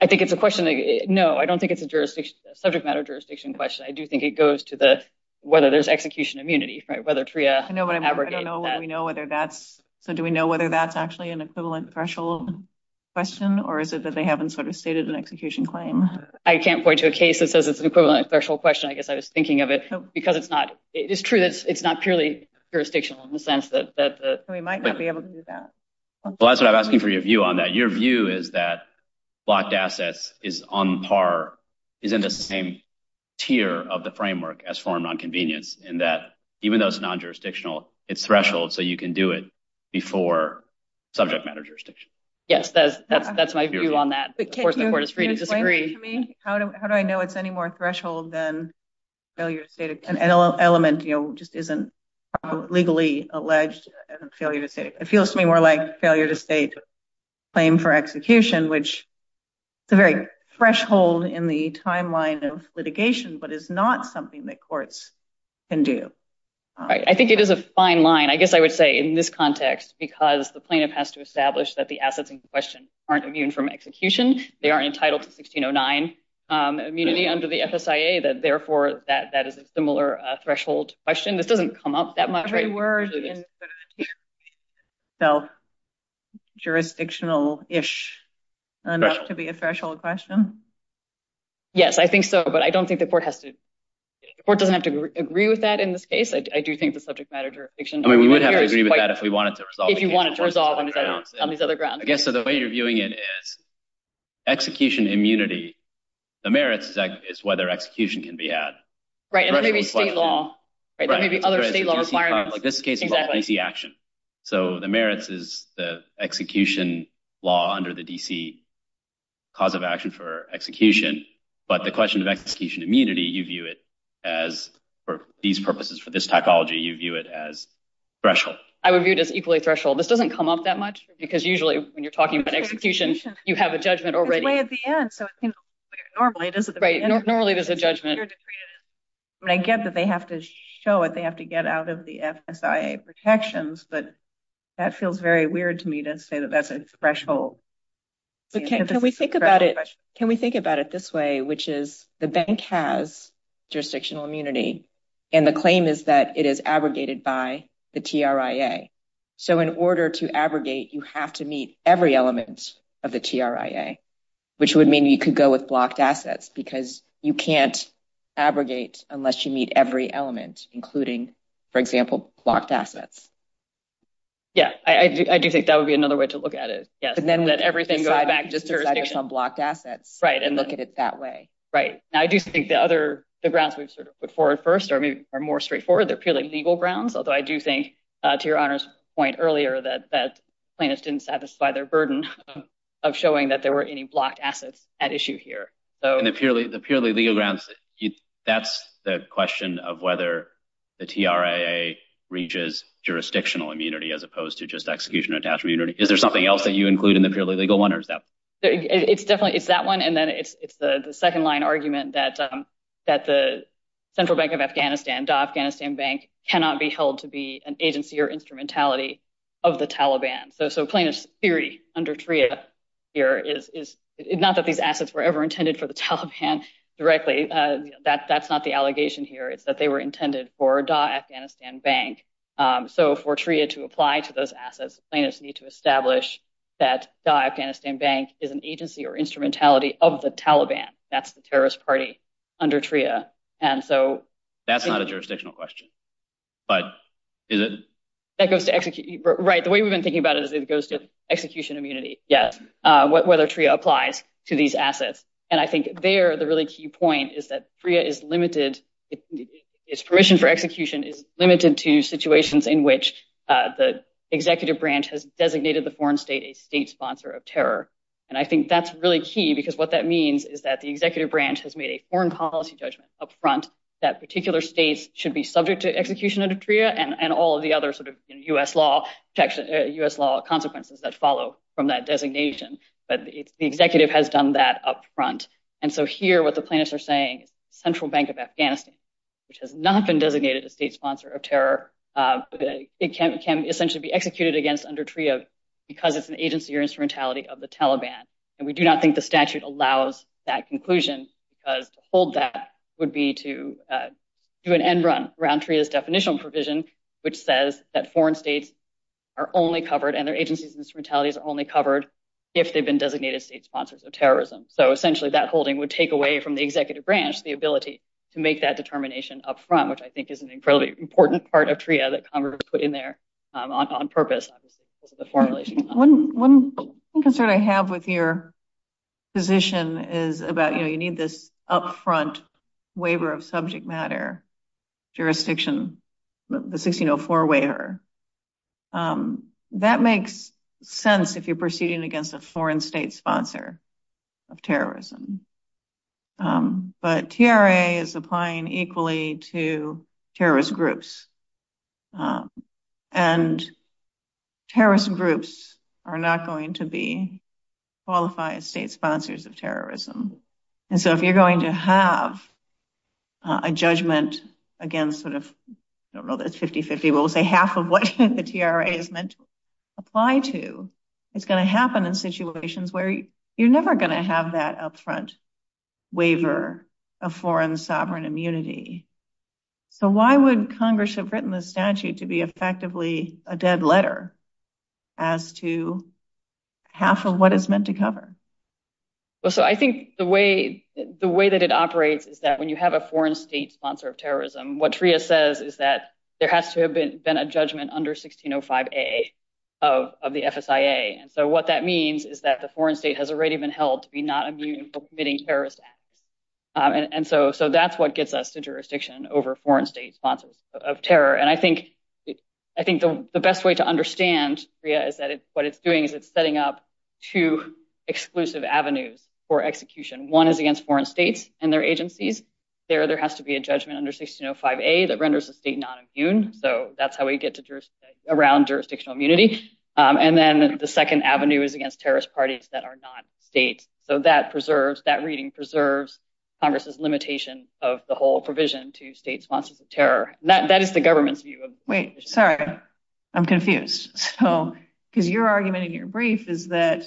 I think it's a question that... No, I don't think it's a subject matter jurisdiction question. I do think it goes to whether there's execution immunity. Whether TRIA abrogates that. I don't know whether we know whether that's actually an equivalent threshold question, or is it that they haven't stated an execution claim? I can't point to a case that says it's an equivalent threshold question. I guess I was thinking of it because it's not purely jurisdictional in the sense that- So we might not be able to do that. Well, that's what I'm asking for your view on that. Your view is that blocked assets is on par, is in the same tier of the framework as foreign non-convenience, and that even though it's non-jurisdictional, it's threshold, so you can do it before subject matter jurisdiction. Yes, that's my view on that. Of course, the court is free to disagree. How do I know it's any more threshold than failure to state? An element just isn't legally alleged as a failure to state. It feels to me more like failure to state a claim for execution, which is a very threshold in the timeline of litigation, but it's not something that courts can do. I think it is a fine line, I guess I would say, in this context, because the plaintiff has to establish that the assets in question aren't immune from execution. They are entitled to 1609 immunity under the FSIA. Therefore, that is a similar threshold question. This doesn't come up that much. Every word in the sentence is self-jurisdictional-ish enough to be a threshold question. Yes, I think so, but I don't think the court has to... The court doesn't have to agree with that in this case. I do think the subject matter jurisdiction- I mean, we would have to agree with that if we wanted to resolve- If you wanted to resolve on these other grounds. Yes, so the way you're viewing it is execution immunity, the merits is whether execution can be had. Right, and that may be state law, right? That may be other state law requirements. This case is all D.C. action, so the merits is the execution law under the D.C. cause of action for execution. But the question of execution immunity, you view it as, for these purposes, for this typology, you view it as threshold. I would view it as equally threshold. This doesn't come up that much because usually when you're talking about execution, you have a judgment already. It's way at the end, so it seems like normally this is- Right, normally there's a judgment. But I get that they have to show it. They have to get out of the FSIA protections, but that feels very weird to me to say that that's a threshold. But can we think about it this way, which is the bank has jurisdictional immunity, and the claim is that it is abrogated by the TRIA. So in order to abrogate, you have to meet every element of the TRIA, which would mean you could go with blocked assets because you can't abrogate unless you meet every element, including, for example, blocked assets. Yes, I do think that would be another way to look at it, yes. And then let everything go back to jurisdictional blocked assets. Right, and look at it that way. Right. Now, I do think the grounds we've sort of put forward first are more straightforward. They're purely legal grounds, although I do think, to your Honor's point earlier, that plaintiffs didn't satisfy their burden of showing that there were any blocked assets at issue here. The purely legal grounds, that's the question of whether the TRIA reaches jurisdictional immunity as opposed to just execution or task immunity. Is there something else that you include in the purely legal one or is that? It's definitely, it's that one. And then it's the second line argument that the Central Bank of Afghanistan, DAW Afghanistan Bank, cannot be held to be an agency or instrumentality of the Taliban. So plaintiff's theory under TRIA here is not that these assets were ever intended for the Taliban directly. That's not the allegation here. It's that they were intended for DAW Afghanistan Bank. So for TRIA to apply to those assets, plaintiffs need to establish that DAW Afghanistan Bank is an agency or instrumentality of the Taliban. That's the terrorist party under TRIA. And so- That's not a jurisdictional question. But is it? Right. The way we've been thinking about it is it goes to execution immunity. Yes. Whether TRIA applies to these assets. And I think there, the really key point is that TRIA is limited. Its permission for execution is limited to situations in which the executive branch has designated the foreign state a state sponsor of terror. And I think that's really key because what that means is that the executive branch has made a foreign policy judgment up front that particular state should be subject to execution under TRIA and all of the other sort of US law consequences that follow from that designation. But the executive has done that up front. And so here what the plaintiffs are saying, Central Bank of Afghanistan, which has not been designated a state sponsor of terror, it can essentially be executed against under TRIA because it's an agency or instrumentality of the Taliban. And we do not think the statute allows that conclusion because to hold that would be to do an end run around TRIA's definitional provision, which says that foreign states are only covered and their agencies and instrumentalities are only covered if they've been designated state sponsors of terrorism. So essentially, that holding would take away from the executive branch the ability to make that determination up front, which I think is an incredibly important part of TRIA that Conrad put in there on purpose. One concern I have with your position is about, you know, you need this up front waiver of subject matter jurisdiction, the 1604 waiver. That makes sense if you're proceeding against a foreign state sponsor. It's not going to be qualified as a state sponsor of terrorism, but TRIA is applying equally to terrorist groups and terrorist groups are not going to be qualified as state sponsors of terrorism. And so if you're going to have a judgment against sort of, I don't know if it's 50-50, we'll say half of what the TRIA is meant to apply to, it's going to happen in situations where you're never going to have that up front waiver of foreign sovereign immunity. So why would Congress have written the statute to be effectively a dead letter as to half of what it's meant to cover? So I think the way that it operates is that when you have a foreign state sponsor of then a judgment under 1605A of the FSIA. And so what that means is that the foreign state has already been held to be not immune for committing terrorist acts. And so that's what gets us to jurisdiction over foreign state sponsors of terror. And I think the best way to understand TRIA is that what it's doing is it's setting up two exclusive avenues for execution. One is against foreign states and their agencies. There has to be a judgment under 1605A that renders the state not immune. So that's how we get around jurisdictional immunity. And then the second avenue is against terrorist parties that are not state. So that preserves, that reading preserves Congress's limitation of the whole provision to state sponsors of terror. That is the government's view. Wait, sorry, I'm confused. Because your argument in your brief is that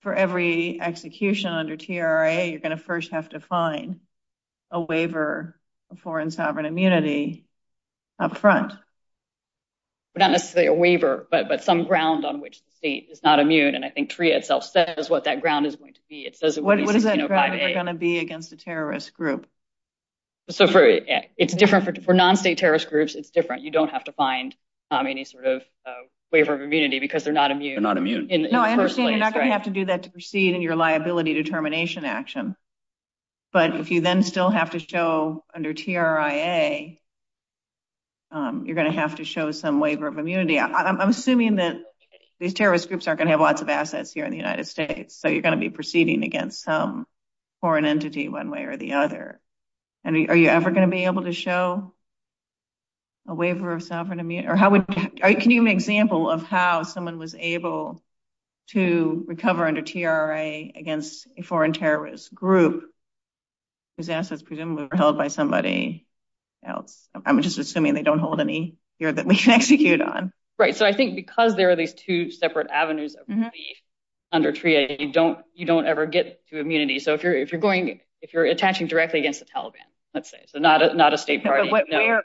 for every execution under TRIA, you're going to first have to find a waiver of foreign sovereign immunity up front. Not necessarily a waiver, but some ground on which the state is not immune. And I think TRIA itself says what that ground is going to be. What is that ground going to be against a terrorist group? So it's different for non-state terrorist groups. It's different. You don't have to find any sort of waiver of immunity because they're not immune. They're not immune. No, I understand. You're not going to have to do that to proceed in your liability determination action. But if you then still have to show under TRIA, you're going to have to show some waiver of immunity. I'm assuming that these terrorist groups aren't going to have lots of assets here in the United States. So you're going to be proceeding against some foreign entity one way or the other. And are you ever going to be able to show a waiver of sovereign immunity? Or can you give an example of how someone was able to recover under TRIA against a foreign terrorist group whose assets presumably were held by somebody else? I'm just assuming they don't hold any here that we can execute on. Right. So I think because there are these two separate avenues of receipt under TRIA, you don't ever get to immunity. So if you're attaching directly against the Taliban, let's say, so not a state party. But what happens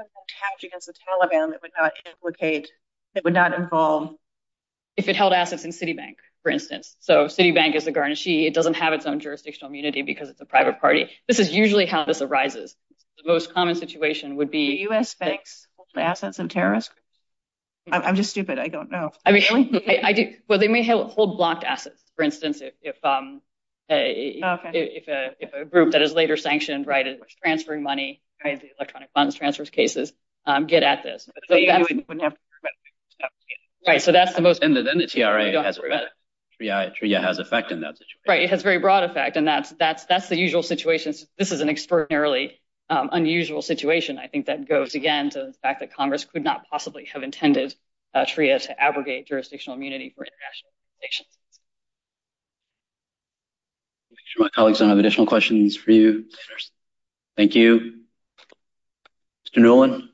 if you attach against the Taliban that would not implicate, that would not involve... If it held assets in Citibank, for instance. So if Citibank is a garnishee, it doesn't have its own jurisdictional immunity because it's a private party. This is usually how this arises. The most common situation would be... Do U.S. banks hold assets in terrorists? I'm just stupid. I don't know. I mean, well, they may hold blocked assets, for instance, if a group that is later sanctioned, right, is transferring money, electronic funds, transfers cases, get at this. Right. So that's the most... TRIA has effect in that situation. Right. It has a very broad effect. And that's the usual situation. This is an extraordinarily unusual situation. I think that goes, again, to the fact that Congress could not possibly have intended TRIA to abrogate jurisdictional immunity for international organizations. I'm sure my colleagues don't have additional questions for you. Thank you. Mr. Nolan?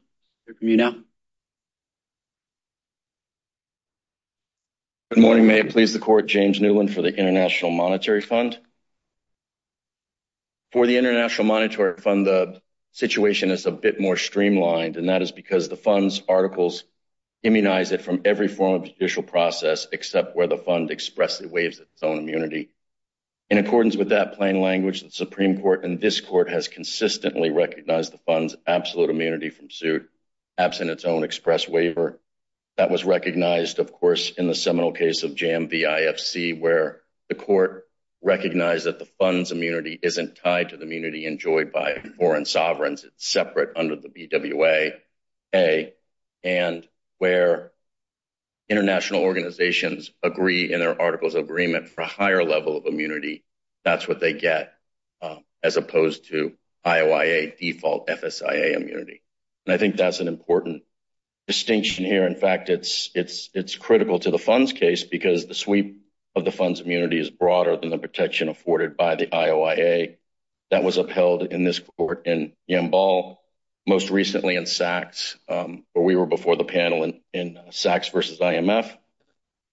Good morning. May it please the court, James Nolan for the International Monetary Fund. For the International Monetary Fund, the situation is a bit more streamlined, and that is because the fund's articles immunize it from every form of judicial process except where the fund expressly waives its own immunity. In accordance with that plain language, the Supreme Court and this court has consistently recognized the fund's absolute immunity from suit, absent its own express waiver. That was recognized, of course, in the seminal case of Jambi IFC, where the court recognized that the fund's immunity isn't tied to the immunity enjoyed by foreign sovereigns. It's separate under the BWA, and where international organizations agree in their articles of agreement for a higher level of immunity, that's what they get as opposed to IOIA default FSIA immunity. I think that's an important distinction here. In fact, it's critical to the fund's case because the sweep of the fund's immunity is broader than the protection afforded by the IOIA. That was upheld in this court in Jambal, most recently in SACS, where we were before the panel in SACS versus IMF.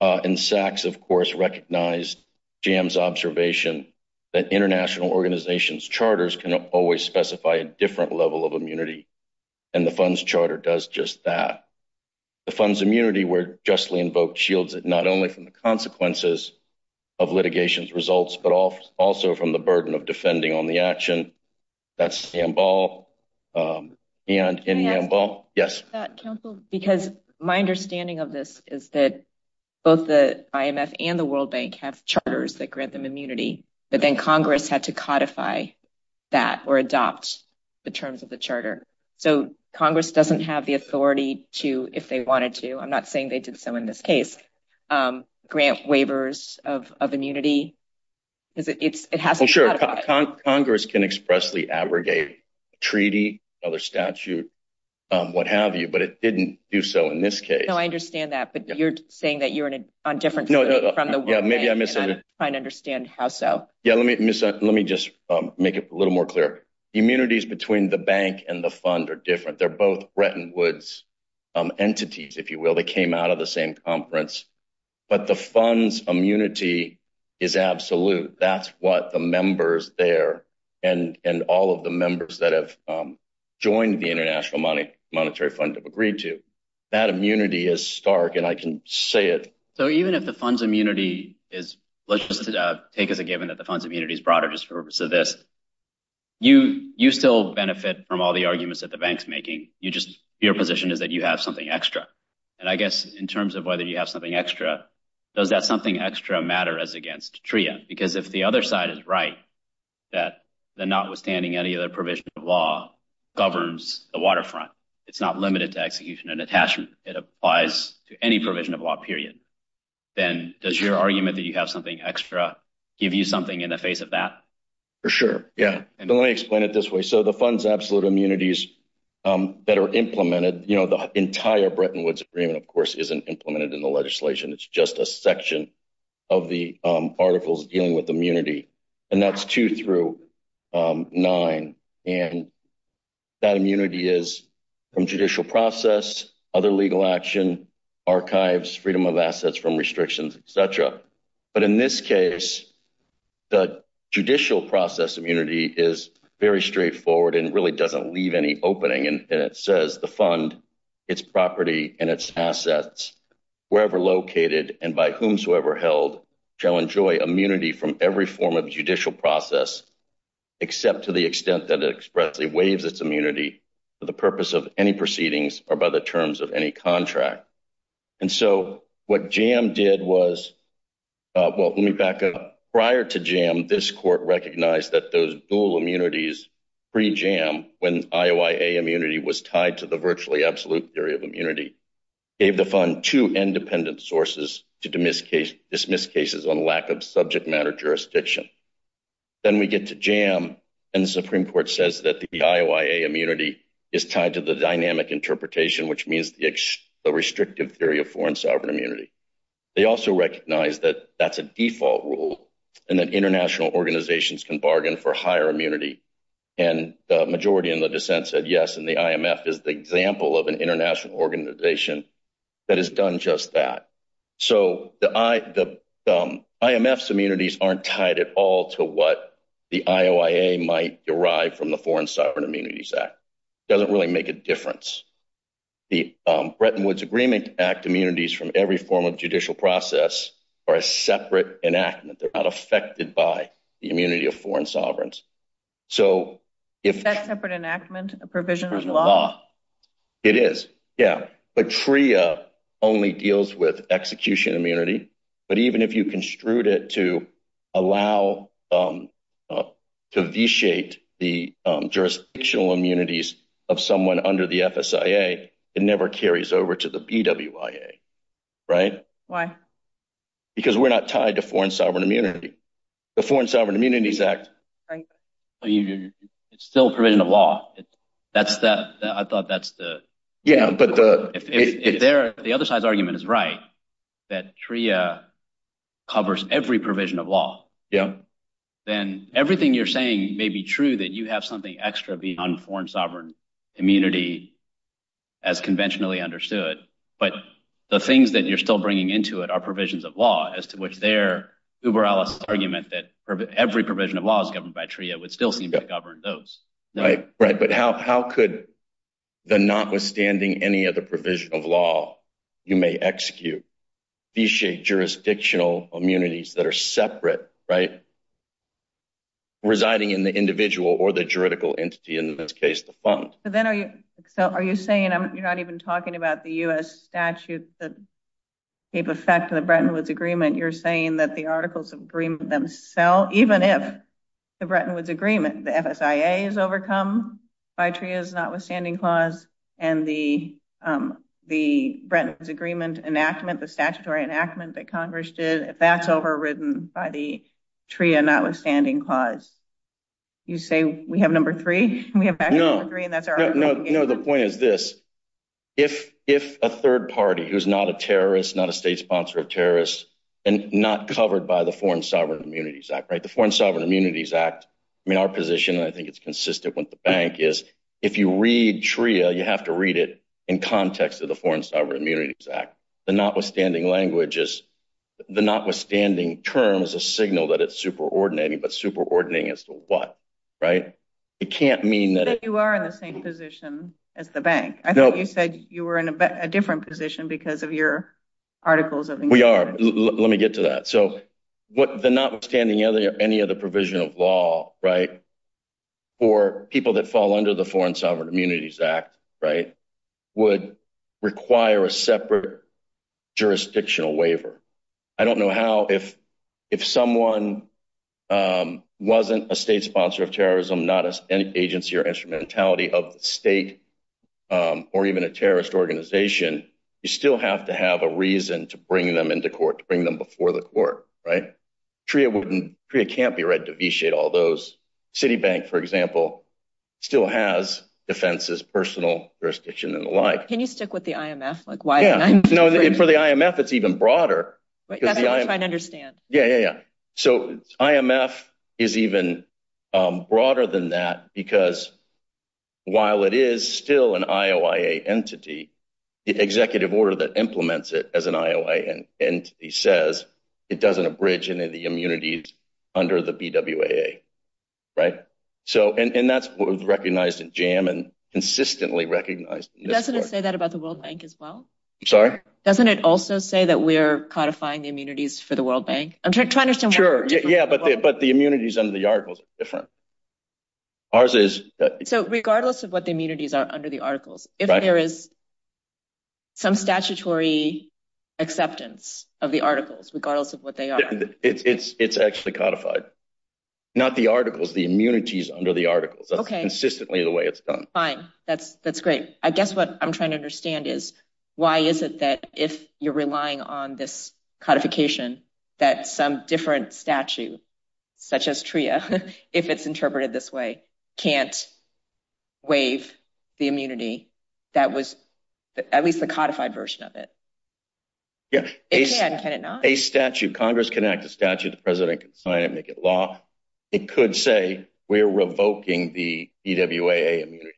And SACS, of course, recognized Jam's observation that international organizations' charters can always specify a different level of immunity, and the fund's charter does just that. The fund's immunity were justly invoked, shielded not only from the consequences of litigation's results, but also from the burden of defending on the action. That's Jambal and in Jambal. Yes. Because my understanding of this is that both the IMF and the World Bank have charters that codify that or adopt the terms of the charter. So, Congress doesn't have the authority to, if they wanted to, I'm not saying they did so in this case, grant waivers of immunity. Congress can expressly aggregate a treaty, other statute, what have you, but it didn't do so in this case. I understand that, but you're saying that you're on different terms from the World Bank. Maybe I misunderstood. I don't understand how so. Yeah, let me just make it a little more clear. Immunities between the bank and the fund are different. They're both Bretton Woods entities, if you will. They came out of the same conference. But the fund's immunity is absolute. That's what the members there and all of the members that have joined the International Monetary Fund have agreed to. That immunity is stark, and I can say it. So, even if the fund's immunity is, let's just take as a given that the fund's immunity is broader just for the purpose of this, you still benefit from all the arguments that the bank's making. Your position is that you have something extra. And I guess in terms of whether you have something extra, does that something extra matter as against TRIA? Because if the other side is right, that notwithstanding any other provision of law governs the waterfront, it's not limited to execution and attachment. It applies to any provision of law period. Then does your argument that you have something extra give you something in the face of that? For sure, yeah. And let me explain it this way. So, the fund's absolute immunities that are implemented, you know, the entire Bretton Woods agreement, of course, isn't implemented in the legislation. It's just a section of the articles dealing with immunity, and that's two through nine. And that immunity is from judicial process, other legal action, archives, freedom of assets from restrictions, et cetera. But in this case, the judicial process immunity is very straightforward and really doesn't leave any opening. And it says the fund, its property, and its assets, wherever located and by whomsoever held, shall enjoy immunity from every form of judicial process, except to the extent that it expressly waives its immunity for the purpose of any proceedings or by the terms of any contract. And so, what JAM did was, well, let me back up. Prior to JAM, this court recognized that the dual immunities pre-JAM, when IOIA immunity was tied to the virtually absolute theory of immunity, gave the fund two independent sources to dismiss cases on lack of subject matter jurisdiction. Then we get to JAM, and the Supreme Court says that the IOIA immunity is tied to the dynamic interpretation, which means the restrictive theory of foreign sovereign immunity. They also recognize that that's a default rule and that international organizations can bargain for higher immunity. And the majority in the dissent said yes, and the IMF is the example of an international organization that has done just that. So, the IMF's immunities aren't tied at all to what the IOIA might derive from the Foreign Sovereign Immunities Act. It doesn't really make a difference. The Bretton Woods Agreement Act immunities from every form of judicial process are a separate enactment. They're not affected by the immunity of foreign sovereigns. So, if- Is that separate enactment, a provision of law? It is, yeah. But TRIA only deals with execution immunity. But even if you construed it to allow- to vitiate the jurisdictional immunities of someone under the FSIA, it never carries over to the BWIA. Right? Why? Because we're not tied to foreign sovereign immunity. The Foreign Sovereign Immunities Act- Right. It's still a provision of law. I thought that's the- Yeah, but the- The other side's argument is right, that TRIA covers every provision of law. Yeah. Then everything you're saying may be true, that you have something extra beyond foreign sovereign immunity as conventionally understood. But the things that you're still bringing into it are provisions of law, as to which their uber-allocated argument that every provision of law is governed by TRIA would still seem to govern those. Right, right. But how could the notwithstanding any of the provision of law, you may execute, vitiate jurisdictional immunities that are separate, right? Residing in the individual or the juridical entity, in this case, the fund. So then are you saying you're not even talking about the U.S. statute that gave effect to the Bretton Woods Agreement? You're saying that the Articles of Agreement themselves, even if the Bretton Woods Agreement, the FSIA is overcome by TRIA's notwithstanding clause, and the Bretton Woods Agreement enactment, the statutory enactment that Congress did, if that's overridden by the TRIA notwithstanding clause, you say we have number three? We have Actuals of Agreement- No, no, no. The point is this, if a third party who's not a terrorist, not a state sponsor of terrorists, and not covered by the Foreign Sovereign Immunities Act, right? Our position, and I think it's consistent with the bank, is if you read TRIA, you have to read it in context of the Foreign Sovereign Immunities Act. The notwithstanding language is, the notwithstanding term is a signal that it's superordinating, but superordinating as to what, right? It can't mean that- But you are in the same position as the bank. I thought you said you were in a different position because of your Articles of Agreement. We are. Let me get to that. The notwithstanding any other provision of law, right, for people that fall under the Foreign Sovereign Immunities Act, right, would require a separate jurisdictional waiver. I don't know how, if someone wasn't a state sponsor of terrorism, not an agency or instrumentality of the state, or even a terrorist organization, you still have to have a reason to bring them into court, to bring them before the court, right? TRIA can't be read to vitiate all those. Citibank, for example, still has defenses, personal jurisdiction, and the like. Can you stick with the IMF? Like, why can't I? No, and for the IMF, it's even broader. That's what I'm trying to understand. Yeah, yeah, yeah. So IMF is even broader than that because while it is still an IOIA entity, the executive order that implements it as an IOIA entity says it doesn't abridge any of the immunities under the BWAA, right? So, and that's what was recognized in JAMA and consistently recognized. Doesn't it say that about the World Bank as well? Sorry? Doesn't it also say that we're codifying the immunities for the World Bank? I'm trying to understand. Sure, yeah, but the immunities under the articles are different. Ours is... So regardless of what the immunities are under the articles, if there is some statutory acceptance of the articles, regardless of what they are. Yeah, it's actually codified. Not the articles, the immunities under the articles. Okay. Consistently the way it's done. Fine, that's great. I guess what I'm trying to understand is why is it that if you're relying on this codification that some different statute, such as TRIA, if it's interpreted this way, can't waive the immunity that was at least the codified version of it? Yes. It can, can it not? A statute, Congress can enact a statute, the president can sign it, make it law. It could say we're revoking the BWAA immunities.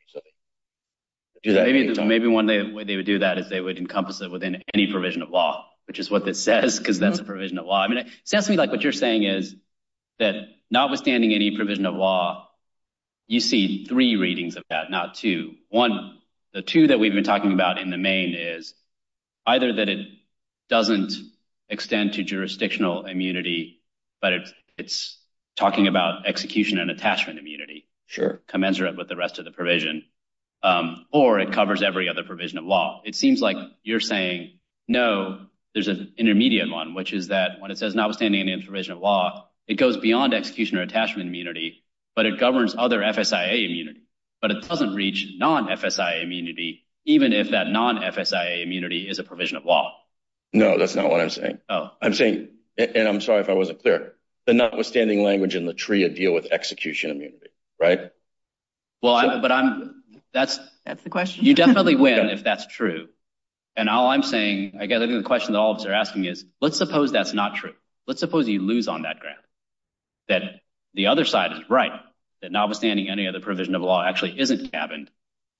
Maybe one day when they would do that is they would encompass it within any provision of law, which is what that says, because that's a provision of law. I mean, it sounds to me like what you're saying is that notwithstanding any provision of law, you see three readings of that, not two. One, the two that we've been talking about in the main is either that it doesn't extend to jurisdictional immunity, but it's talking about execution and attachment immunity. Sure. Commensurate with the rest of the provision, or it covers every other provision of law. It seems like you're saying, no, there's an intermediate one, which is that when it says notwithstanding any provision of law, it goes beyond execution or attachment immunity, but it governs other FSIA immunity, but it doesn't reach non-FSIA immunity, even if that non-FSIA immunity is a provision of law. No, that's not what I'm saying. Oh. I'm saying, and I'm sorry if I wasn't clear, the notwithstanding language in the tree of deal with execution immunity, right? Well, but I'm, that's, that's the question. You definitely win if that's true. And all I'm saying, I guess I think the question that all of us are asking is, let's suppose that's not true. Let's suppose you lose on that graph. That the other side is right. That notwithstanding any other provision of law actually isn't stabbing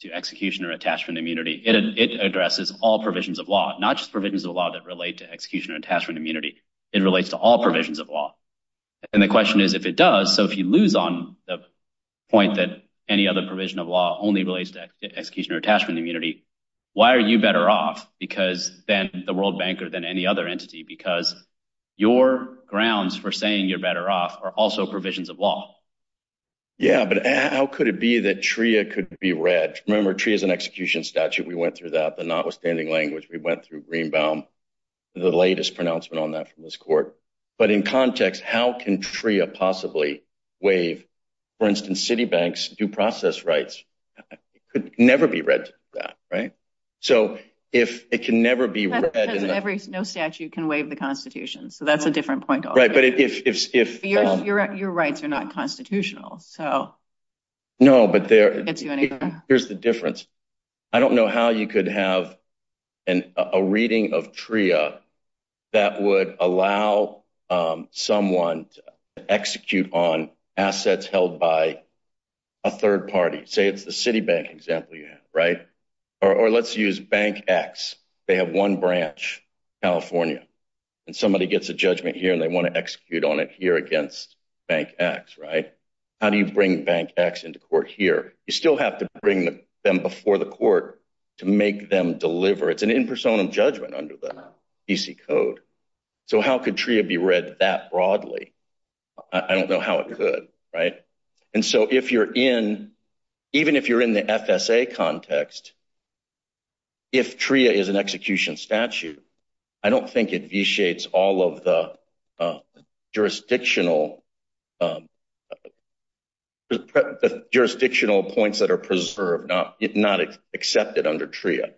to execution or attachment immunity. It is, it addresses all provisions of law, not just provisions of law that relate to execution or attachment immunity. It relates to all provisions of law. And the question is if it does, so if you lose on the point that any other provision of law only relates to execution or attachment immunity, why are you better off because then the world banker than any other entity, because. Your grounds for saying you're better off are also provisions of law. Yeah. But how could it be that Tria could be read? Remember tree is an execution statute. We went through that, the notwithstanding language, we went through Greenbaum. The latest pronouncement on that from this court, but in context, how can free a possibly way, for instance, city banks do process rights could never be read that. Right. So if it can never be read, no statute can waive the constitution. So that's a different point. Right. But if, if, if you're right, you're right. You're not constitutional. So no, but there, here's the difference. I don't know how you could have an, a reading of Tria that would allow, um, someone to execute on assets held by a third party, say it's the city bank example you have, right. Or, or let's use bank X. They have one branch, California, and somebody gets a judgment here and they want to execute on it here against bank X. Right. How do you bring bank X into court here? You still have to bring them before the court to make them deliver. It's an impersonal judgment under the PC code. So how could Tria be read that broadly? I don't know how it could. Right. And so if you're in, even if you're in the FSA context, if Tria is an execution statute, I don't think it vitiates all of the, uh, jurisdictional, um, jurisdictional points that are preserved, not accepted under Tria.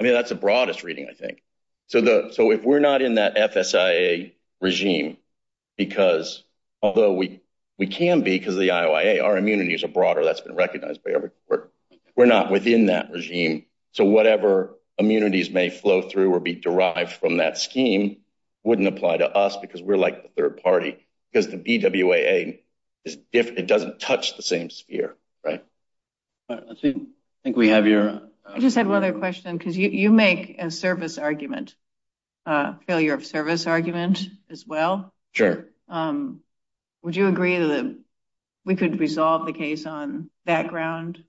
I mean, that's the broadest reading, I think. So the, so if we're not in that FSIA regime, because although we, we can be, because the IOIA, our immunities are broader, that's been recognized by every court. We're not within that regime. So whatever immunities may flow through or be derived from that scheme wouldn't apply to us because we're like the third party. Because the DWAA is different. It doesn't touch the same sphere. Right. All right. Let's see. I think we have your. I just had another question because you, you make a service argument, uh, failure of service argument as well. Sure. Um, would you agree that we could resolve the case on background?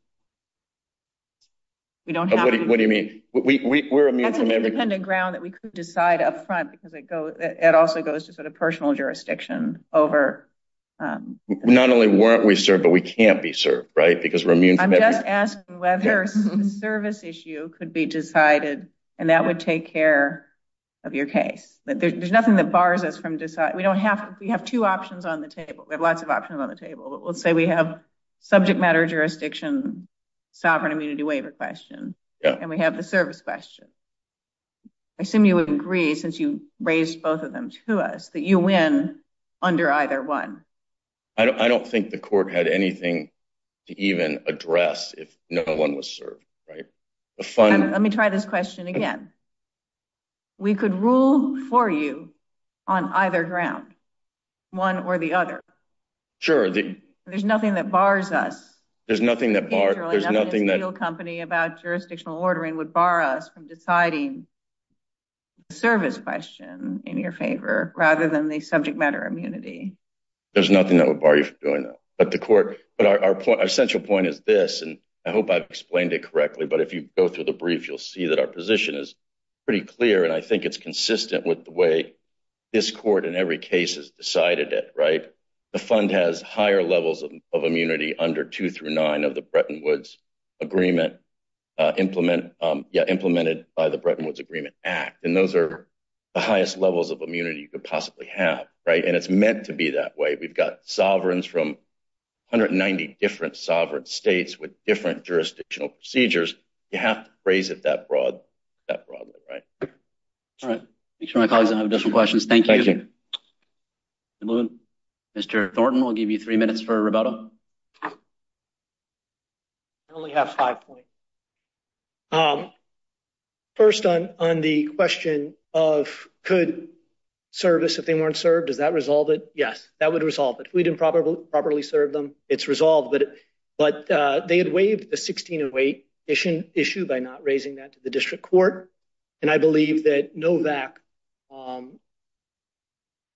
We don't have. What do you mean? We, we, we, we're. I think we could decide up front because it goes, it also goes to sort of personal jurisdiction over, um. Not only weren't we served, but we can't be served. Right. Because we're immune. I'm just asking whether a service issue could be decided and that would take care of your case, but there's nothing that bars us from deciding. We don't have, we have two options on the table. We have lots of options on the table, but we'll say we have subject matter, jurisdiction, sovereign immunity waiver question, and we have the service question. I assume you would agree since you raised both of them to us that you win under either one. I don't, I don't think the court had anything to even address if no one was served. Right. The fun. Let me try this question again. We could rule for you on either ground, one or the other. Sure. There's nothing that bars us. There's nothing that there's nothing that company about jurisdictional ordering would borrow us from deciding service question in your favor rather than the subject matter immunity. There's nothing that would bar you from doing that, but the court, but our point, our central point is this, and I hope I've explained it correctly, but if you go through the brief, you'll see that our position is pretty clear. And I think it's consistent with the way this court in every case has decided it. Right. The fund has higher levels of immunity under two through nine of the Bretton Woods agreement implement implemented by the Bretton Woods agreement act. And those are the highest levels of immunity you could possibly have. Right. And it's meant to be that way. We've got sovereigns from hundred and ninety different sovereign states with different jurisdictional procedures. You have to phrase it that broad, that probably right. All right. Each of my colleagues and I have different questions. Thank you. Mr. Thornton, we'll give you three minutes for a rebuttal. I only have five points. Um, first on, on the question of could service if they weren't served, does that resolve it? Yes, that would resolve it. We didn't probably properly serve them. It's resolved, but, but, uh, they had waived the 16 and wait issue issue by not raising that to the district court. And I believe that Novak, um,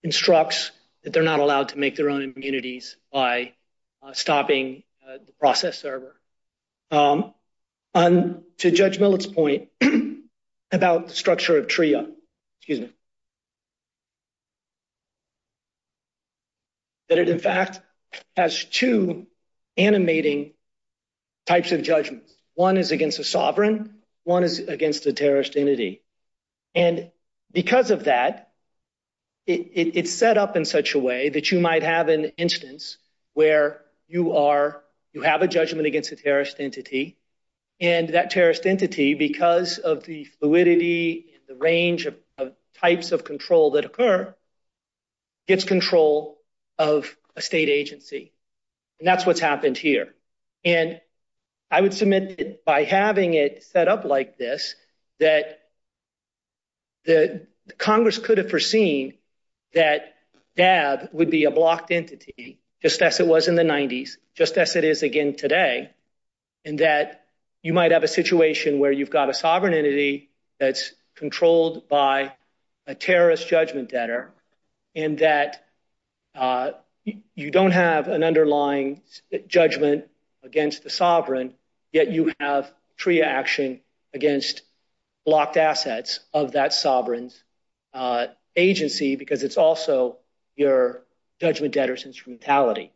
instructs that they're not allowed to make their own immunities by stopping the process server. Um, um, to judge Millett's point about structure of TRIA, excuse me, that it in fact has two animating types of judgment. One is against the sovereign. One is against the terrorist entity. And because of that, it's set up in such a way that you might have an instance where you are, you have a judgment against the terrorist entity and that terrorist entity, because of the fluidity, the range of types of control that occur gets control of a state agency. And that's what's happened here. And I would submit by having it set up like this, that the Congress could have foreseen that DAB would be a blocked entity, just as it was in the nineties, just as it is again today. And that you might have a situation where you've got a sovereign entity that's controlled by a terrorist judgment debtor. And that, uh, you don't have an underlying judgment against the sovereign, yet you have TRIA action against blocked assets of that sovereign, uh, agency, because it's also your judgment debtor since brutality.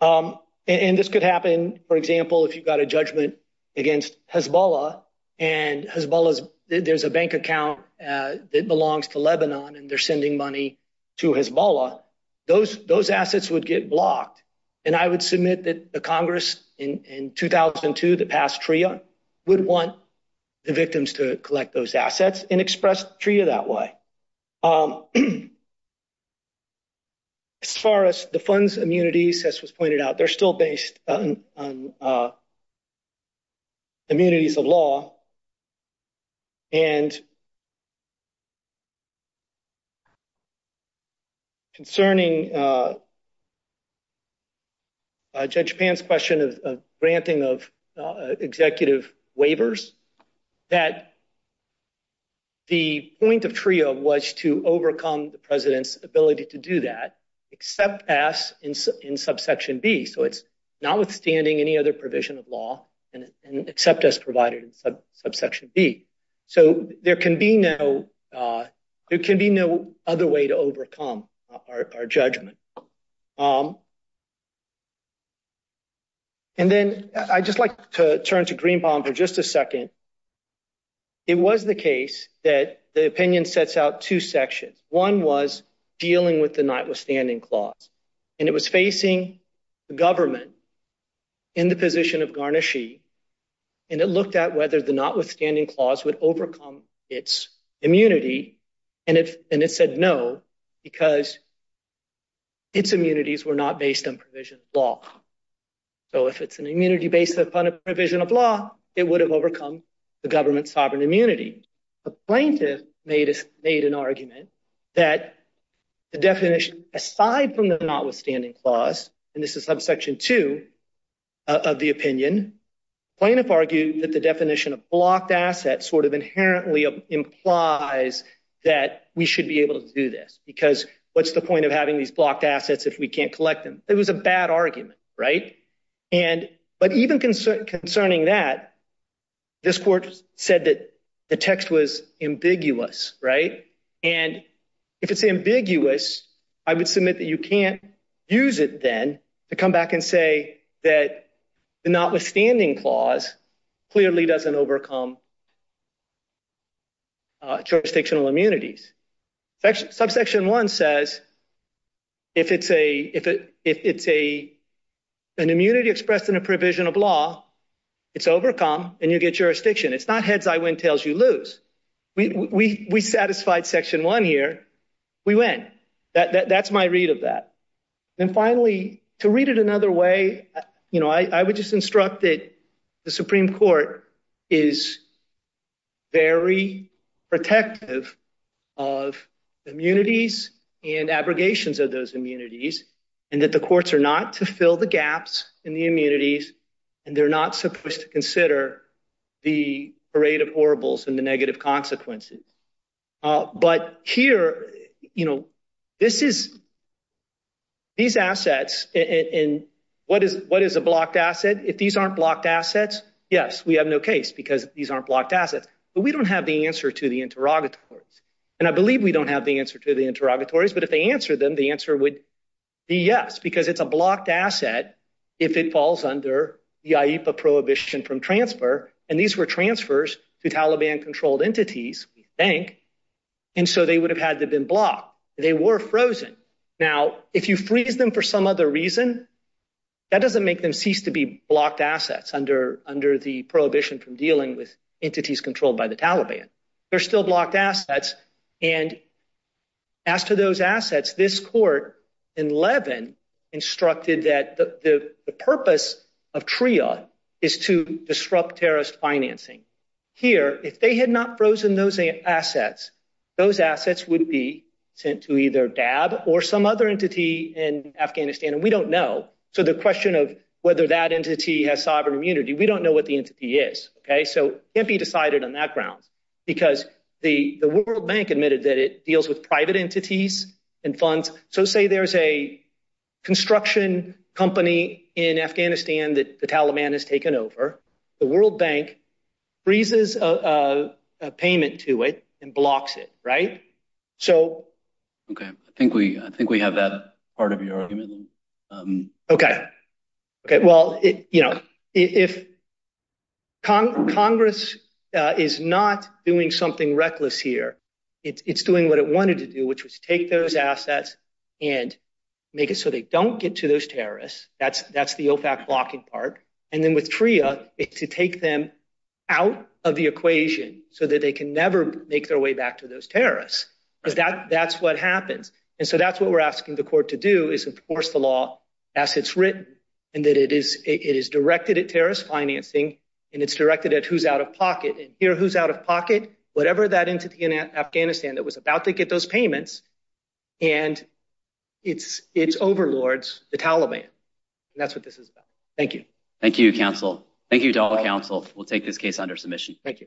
Um, and this could happen, for example, if you've got a judgment against Hezbollah and Hezbollah, there's a bank account, uh, that belongs to Lebanon and they're sending money to Hezbollah, those, those assets would get blocked. And I would submit that the Congress in, in 2002, the past TRIA would want the victims to collect those assets and express TRIA that way. Um, as far as the funds immunities, as was pointed out, they're still based on, uh, immunities of law and concerning, uh, uh, judge pants question of, of granting of, uh, executive waivers that the point of TRIA was to overcome the president's ability to do that except pass in, in subsection B. So it's not withstanding any other provision of law and except as provided subsection B. So there can be no, uh, there can be no other way to overcome our, our judgment. Um, and then I just like to turn to Greenbaum for just a second. It was the case that the opinion sets out two sections. One was dealing with the notwithstanding clause and it was facing the government in the position of garnishy. And it looked at whether the notwithstanding clause would overcome its immunity. And it, and it said, no, because it's immunities were not based on provision of law. So if it's an immunity based upon a provision of law, it would have overcome the government sovereign immunity. A plaintiff made, made an argument that the definition aside from the notwithstanding clause, and this is subsection two of the opinion, plaintiff argued that the definition of blocked assets sort of inherently implies that we should be able to do this because what's the point of having these blocked assets if we can't collect them? It was a bad argument, right? And, but even concerning that, this court said that the text was ambiguous, right? And if it's ambiguous, I would submit that you can't use it then to come back and say that the notwithstanding clause clearly doesn't overcome jurisdictional immunities. Subsection one says, if it's a, if it, if it's a, an immunity expressed in a provision of law, it's overcome and you get jurisdiction. It's not heads. I went tails. You lose. We, we, we satisfied section one here. We went that, that, that's my read of that. And finally to read it another way, you know, I, I would just instruct that the Supreme Court is very protective of immunities and abrogations of those immunities and that the courts are not to fill the gaps in the immunities and they're not supposed to consider the parade of horribles and the negative consequences. But here, you know, this is, these assets and what is, what is a blocked asset? If these aren't blocked assets, yes, we have no case because these aren't blocked assets, but we don't have the answer to the interrogatories. And I believe we don't have the answer to the interrogatories, but if they answer them, the answer would be yes, because it's a blocked asset. If it falls under the IEPA prohibition from transfer. And these were transfers to Taliban controlled entities, bank. And so they would have had to have been blocked. They were frozen. Now, if you freeze them for some other reason, that doesn't make them cease to be blocked assets under, under the prohibition from dealing with entities controlled by the Taliban. They're still blocked assets. And as to those assets, this court in Levin instructed that the purpose of TRIOD is to disrupt terrorist financing. Here, if they had not frozen those assets, those assets would be sent to either Dab or some other entity in Afghanistan. We don't know. So the question of whether that entity has sovereign immunity, we don't know what the entity is. Okay. So it can't be decided on that ground because the World Bank admitted that it deals with private entities and funds. So say there's a construction company in Afghanistan that the Taliban has taken over. The World Bank freezes a payment to it and blocks it. Right. So. Okay. I think we, I think we have that part of your argument. Okay. Okay. Well, you know, if Congress is not doing something reckless here, it's doing what it wanted to do, which was take those assets and make it so they don't get to those terrorists. That's, that's the OFAC blocking part. And then with TRIA to take them out of the equation so that they can never make their way back to those terrorists. So that, that's what happens. And so that's what we're asking the court to do is enforce the law as it's written. And that it is, it is directed at terrorist financing and it's directed at who's out of pocket and here who's out of pocket, whatever that entity in Afghanistan that was about to get those payments. And it's, it's overlords the Taliban. And that's what this is about. Thank you. Thank you, counsel. Thank you to all counsel. We'll take this case under submission. Thank you.